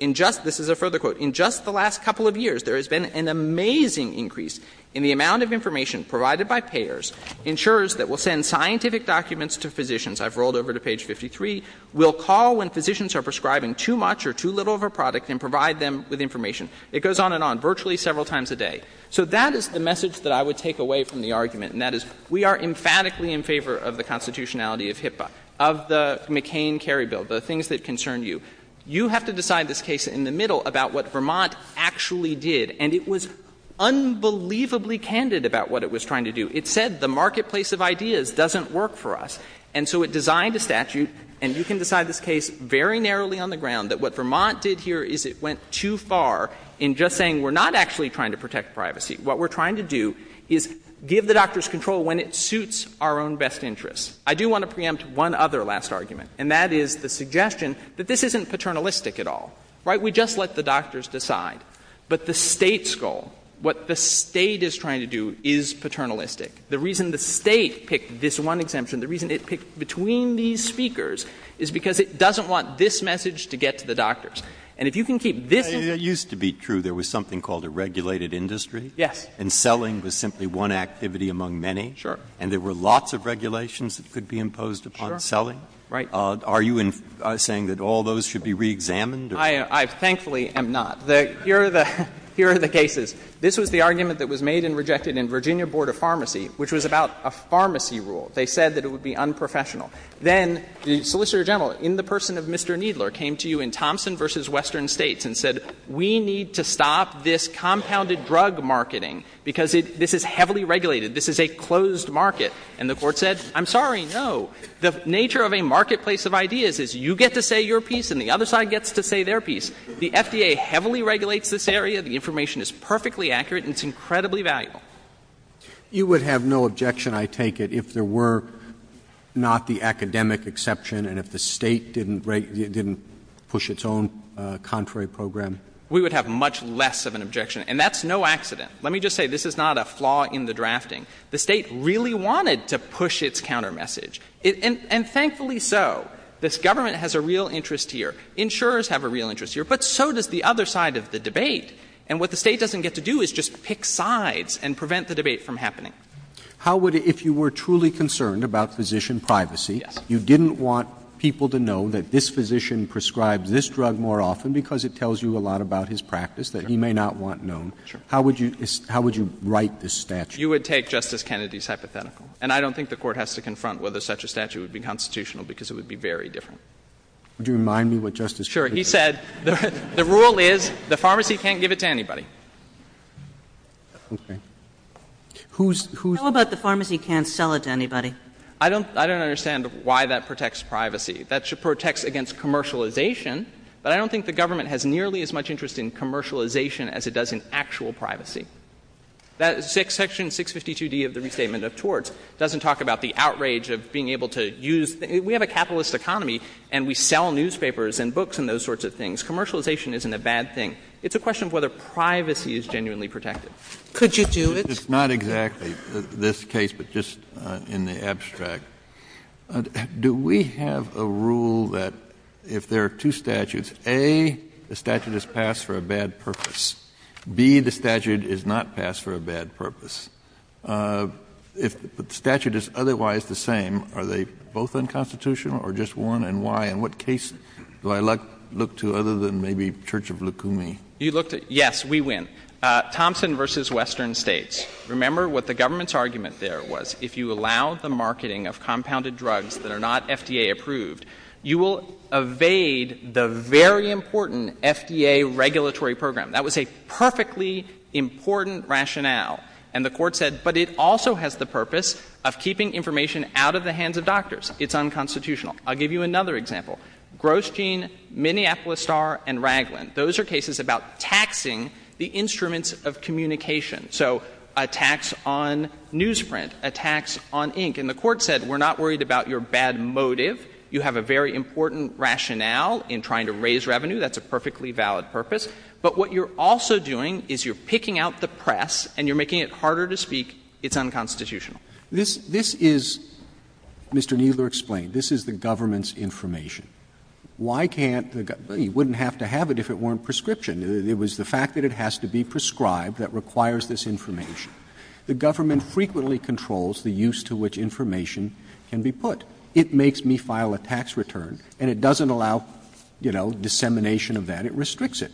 In just — this is a further quote. In just the last couple of years, there has been an amazing increase in the amount of information provided by payers, insurers that will send scientific documents to physicians — I've rolled over to page 53 — will call when physicians are prescribing too much or too little of a product and provide them with information. It goes on and on, virtually several times a day. So that is the message that I would take away from the argument, and that is we are emphatically in favor of the constitutionality of HIPAA, of the McCain-Carrie bill, the things that concern you. You have to decide this case in the middle about what Vermont actually did. And it was unbelievably candid about what it was trying to do. It said the marketplace of ideas doesn't work for us. And so it designed a statute, and you can decide this case very narrowly on the ground, that what Vermont did here is it went too far in just saying we're not actually trying to protect privacy. What we're trying to do is give the doctors control when it suits our own best interests. I do want to preempt one other last argument, and that is the suggestion that this isn't paternalistic at all, right? We just let the doctors decide. But the State's goal, what the State is trying to do is paternalistic. The reason the State picked this one exemption, the reason it picked between these speakers is because it doesn't want this message to get to the doctors. And if you can keep this in mind. Breyer, it used to be true there was something called a regulated industry. Yes. And selling was simply one activity among many. Sure. And there were lots of regulations that could be imposed upon selling. Sure, right. Are you saying that all those should be reexamined? I thankfully am not. Here are the cases. This was the argument that was made and rejected in Virginia Board of Pharmacy, which was about a pharmacy rule. They said that it would be unprofessional. Then the Solicitor General, in the person of Mr. Kneedler, came to you in Thompson v. Western States and said, we need to stop this compounded drug marketing because this is heavily regulated. This is a closed market. And the Court said, I'm sorry, no. The nature of a marketplace of ideas is you get to say your piece and the other side gets to say their piece. The FDA heavily regulates this area. The information is perfectly accurate and it's incredibly valuable. You would have no objection, I take it, if there were not the academic exception and if the State didn't push its own contrary program? We would have much less of an objection. And that's no accident. Let me just say, this is not a flaw in the drafting. The State really wanted to push its countermessage. And thankfully so. This government has a real interest here. But so does the other side of the debate. And what the State doesn't get to do is just pick sides and prevent the debate from happening. How would you, if you were truly concerned about physician privacy, you didn't want people to know that this physician prescribes this drug more often because it tells you a lot about his practice that he may not want known, how would you write this statute? You would take Justice Kennedy's hypothetical. And I don't think the Court has to confront whether such a statute would be constitutional because it would be very different. Would you remind me what Justice Kennedy said? Sure. He said, the rule is the pharmacy can't give it to anybody. Okay. How about the pharmacy can't sell it to anybody? I don't understand why that protects privacy. That protects against commercialization, but I don't think the government has nearly as much interest in commercialization as it does in actual privacy. Section 652d of the Restatement of Torts doesn't talk about the outrage of being able to use the — we have a capitalist economy, and we sell newspapers and books and those sorts of things. Commercialization isn't a bad thing. It's a question of whether privacy is genuinely protected. Could you do it? It's not exactly this case, but just in the abstract. Do we have a rule that if there are two statutes, A, the statute is passed for a bad purpose, B, the statute is not passed for a bad purpose, if the statute is otherwise the same, are they both unconstitutional or just one, and why? In what case do I look to other than maybe Church of Lukumi? You look to — yes, we win. Thompson v. Western States. Remember what the government's argument there was. If you allow the marketing of compounded drugs that are not FDA-approved, you will evade the very important FDA regulatory program. That was a perfectly important rationale. And the Court said, but it also has the purpose of keeping information out of the hands of doctors. It's unconstitutional. I'll give you another example. Gross Gene, Minneapolis Star, and Raglan, those are cases about taxing the instruments of communication. So a tax on newsprint, a tax on ink. And the Court said, we're not worried about your bad motive. You have a very important rationale in trying to raise revenue. That's a perfectly valid purpose. But what you're also doing is you're picking out the press and you're making it harder to speak. It's unconstitutional. Roberts. This is, Mr. Kneedler explained, this is the government's information. Why can't the — you wouldn't have to have it if it weren't prescription. It was the fact that it has to be prescribed that requires this information. The government frequently controls the use to which information can be put. It makes me file a tax return, and it doesn't allow, you know, dissemination of that. It restricts it.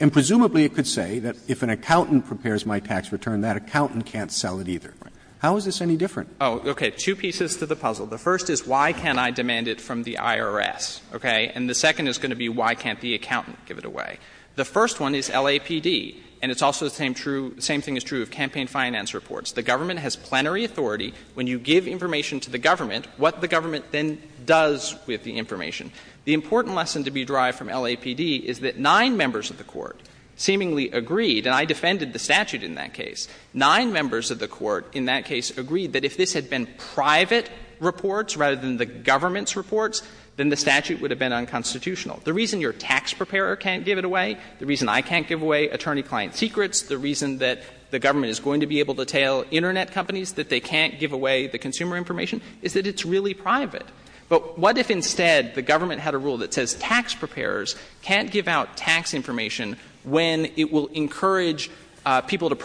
And presumably it could say that if an accountant prepares my tax return, that accountant can't sell it either. How is this any different? Oh, okay. Two pieces to the puzzle. The first is, why can't I demand it from the IRS, okay? And the second is going to be, why can't the accountant give it away? The first one is LAPD. And it's also the same true — same thing is true of campaign finance reports. The government has plenary authority. When you give information to the government, what the government then does with the information. The important lesson to be derived from LAPD is that nine members of the Court seemingly agreed — and I defended the statute in that case. Nine members of the Court in that case agreed that if this had been private reports rather than the government's reports, then the statute would have been unconstitutional. The reason your tax preparer can't give it away, the reason I can't give away attorney client secrets, the reason that the government is going to be able to tail Internet companies, that they can't give away the consumer information, is that it's really private. But what if instead the government had a rule that says tax preparers can't give out But if it will encourage people to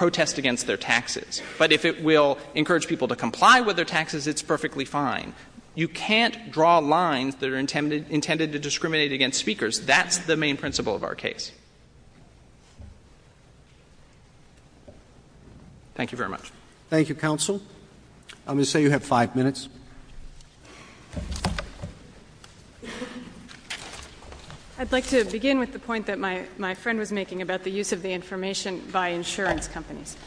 comply with their taxes, it's perfectly fine. You can't draw lines that are intended to discriminate against speakers. That's the main principle of our case. Thank you very much. Thank you, counsel. I'm going to say you have five minutes. I'd like to begin with the point that my friend was making about the use of the information by insurance companies.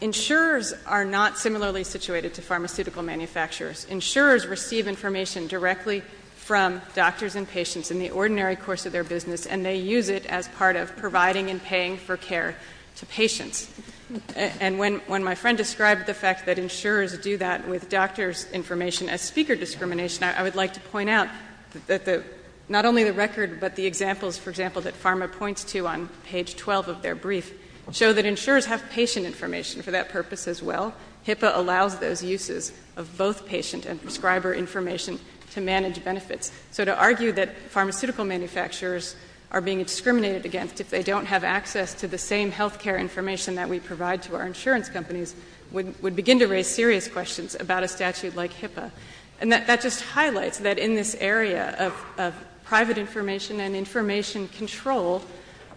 Insurers are not similarly situated to pharmaceutical manufacturers. Insurers receive information directly from doctors and patients in the ordinary course of their business, and they use it as part of providing and paying for care to patients. And when my friend described the fact that insurers do that with doctors' information as speaker discrimination, I would like to point out that not only the record, but the examples, for example, that PhRMA points to on page 12 of their brief show that insurers have patient information for that purpose as well, HIPAA allows those uses of both patient and prescriber information to manage benefits. So to argue that pharmaceutical manufacturers are being discriminated against if they don't have access to the same health care information that we provide to our insurance companies would begin to raise serious questions about a statute like HIPAA. And that just highlights that in this area of private information and information control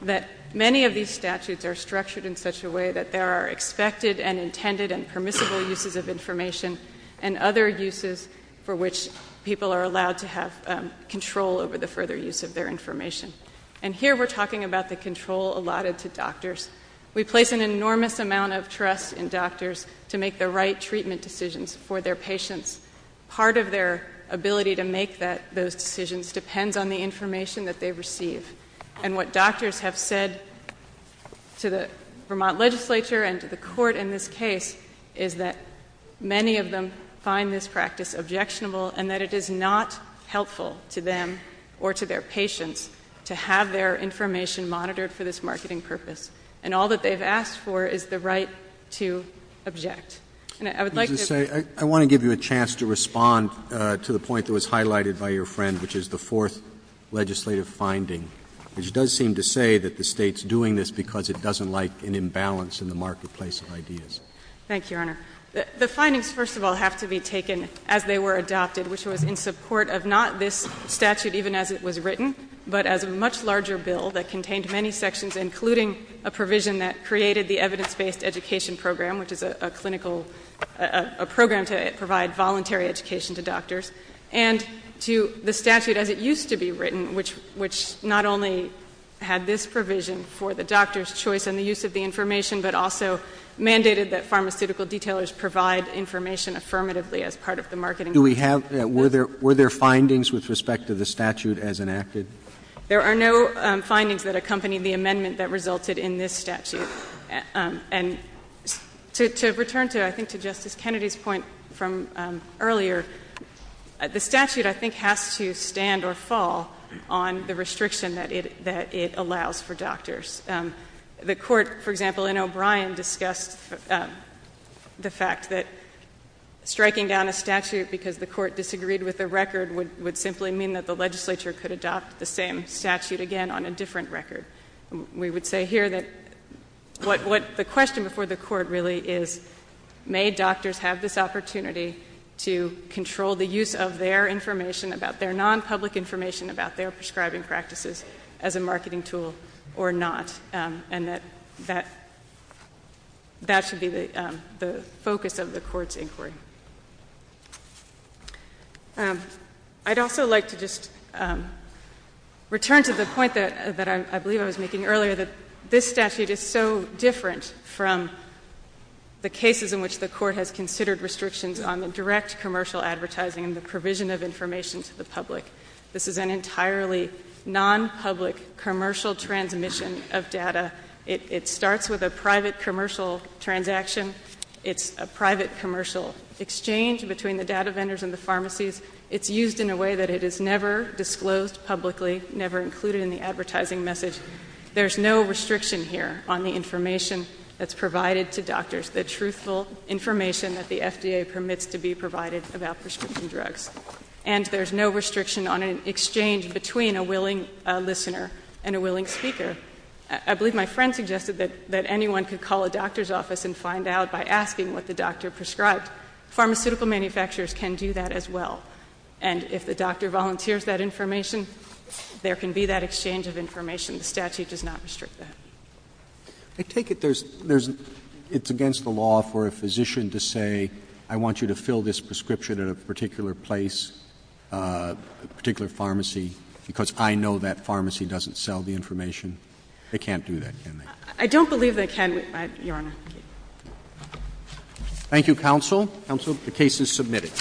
that many of these statutes are structured in such a way that there are expected and intended and permissible uses of information and other uses for which people are allowed to have control over the further use of their information. And here we're talking about the control allotted to doctors. We place an enormous amount of trust in doctors to make the right treatment decisions for their patients. Part of their ability to make those decisions depends on the information that they receive and what doctors have said to the Vermont legislature and to the court in this case is that many of them find this practice objectionable and that it is not helpful to them or to their patients to have their information monitored for this marketing purpose. And all that they've asked for is the right to object. And I would like to say I want to give you a chance to respond to the point that was highlighted by your friend, which is the fourth legislative finding, which does seem to say that the State's doing this because it doesn't like an imbalance in the marketplace of ideas. Thank you, Your Honor. The findings, first of all, have to be taken as they were adopted, which was in support of not this statute even as it was written, but as a much larger bill that contained many sections including a provision that created the evidence-based education program, which is a clinical, a program to provide voluntary education to doctors. And to the statute as it used to be written, which not only had this provision for the doctor's choice and the use of the information, but also mandated that pharmaceutical detailers provide information affirmatively as part of the marketing. Do we have, were there findings with respect to the statute as enacted? There are no findings that accompany the amendment that resulted in this statute. And to return to, I think, to Justice Kennedy's point from earlier, the statute, I think, has to stand or fall on the restriction that it allows for doctors. The Court, for example, in O'Brien, discussed the fact that striking down a statute because the Court disagreed with the record would simply mean that the legislature could adopt the same statute again on a different record. We would say here that what the question before the Court really is, may doctors have this opportunity to control the use of their information about their non-public information about their prescribing practices as a marketing tool or not, and that that should be the focus of the Court's inquiry. I'd also like to just return to the point that I believe I was making earlier, that this statute is so different from the cases in which the Court has considered restrictions on the direct commercial advertising and the provision of information to the public. This is an entirely non-public commercial transmission of data. It starts with a private commercial transaction. It's a private commercial exchange between the data vendors and the pharmacies. It's used in a way that it is never disclosed publicly, never included in the advertising message. There's no restriction here on the information that's provided to doctors, the truthful information that the FDA permits to be provided about prescription drugs. And there's no restriction on an exchange between a willing listener and a willing speaker. I believe my friend suggested that anyone could call a doctor's office and find out by asking what the doctor prescribed. Pharmaceutical manufacturers can do that as well. And if the doctor volunteers that information, there can be that exchange of information. The statute does not restrict that. Roberts. I take it there's — it's against the law for a physician to say, I want you to fill this prescription at a particular place, a particular pharmacy, because I know that pharmacy doesn't sell the information? They can't do that, can they? I don't believe they can, Your Honor. Thank you. Thank you, counsel. Counsel, the case is submitted.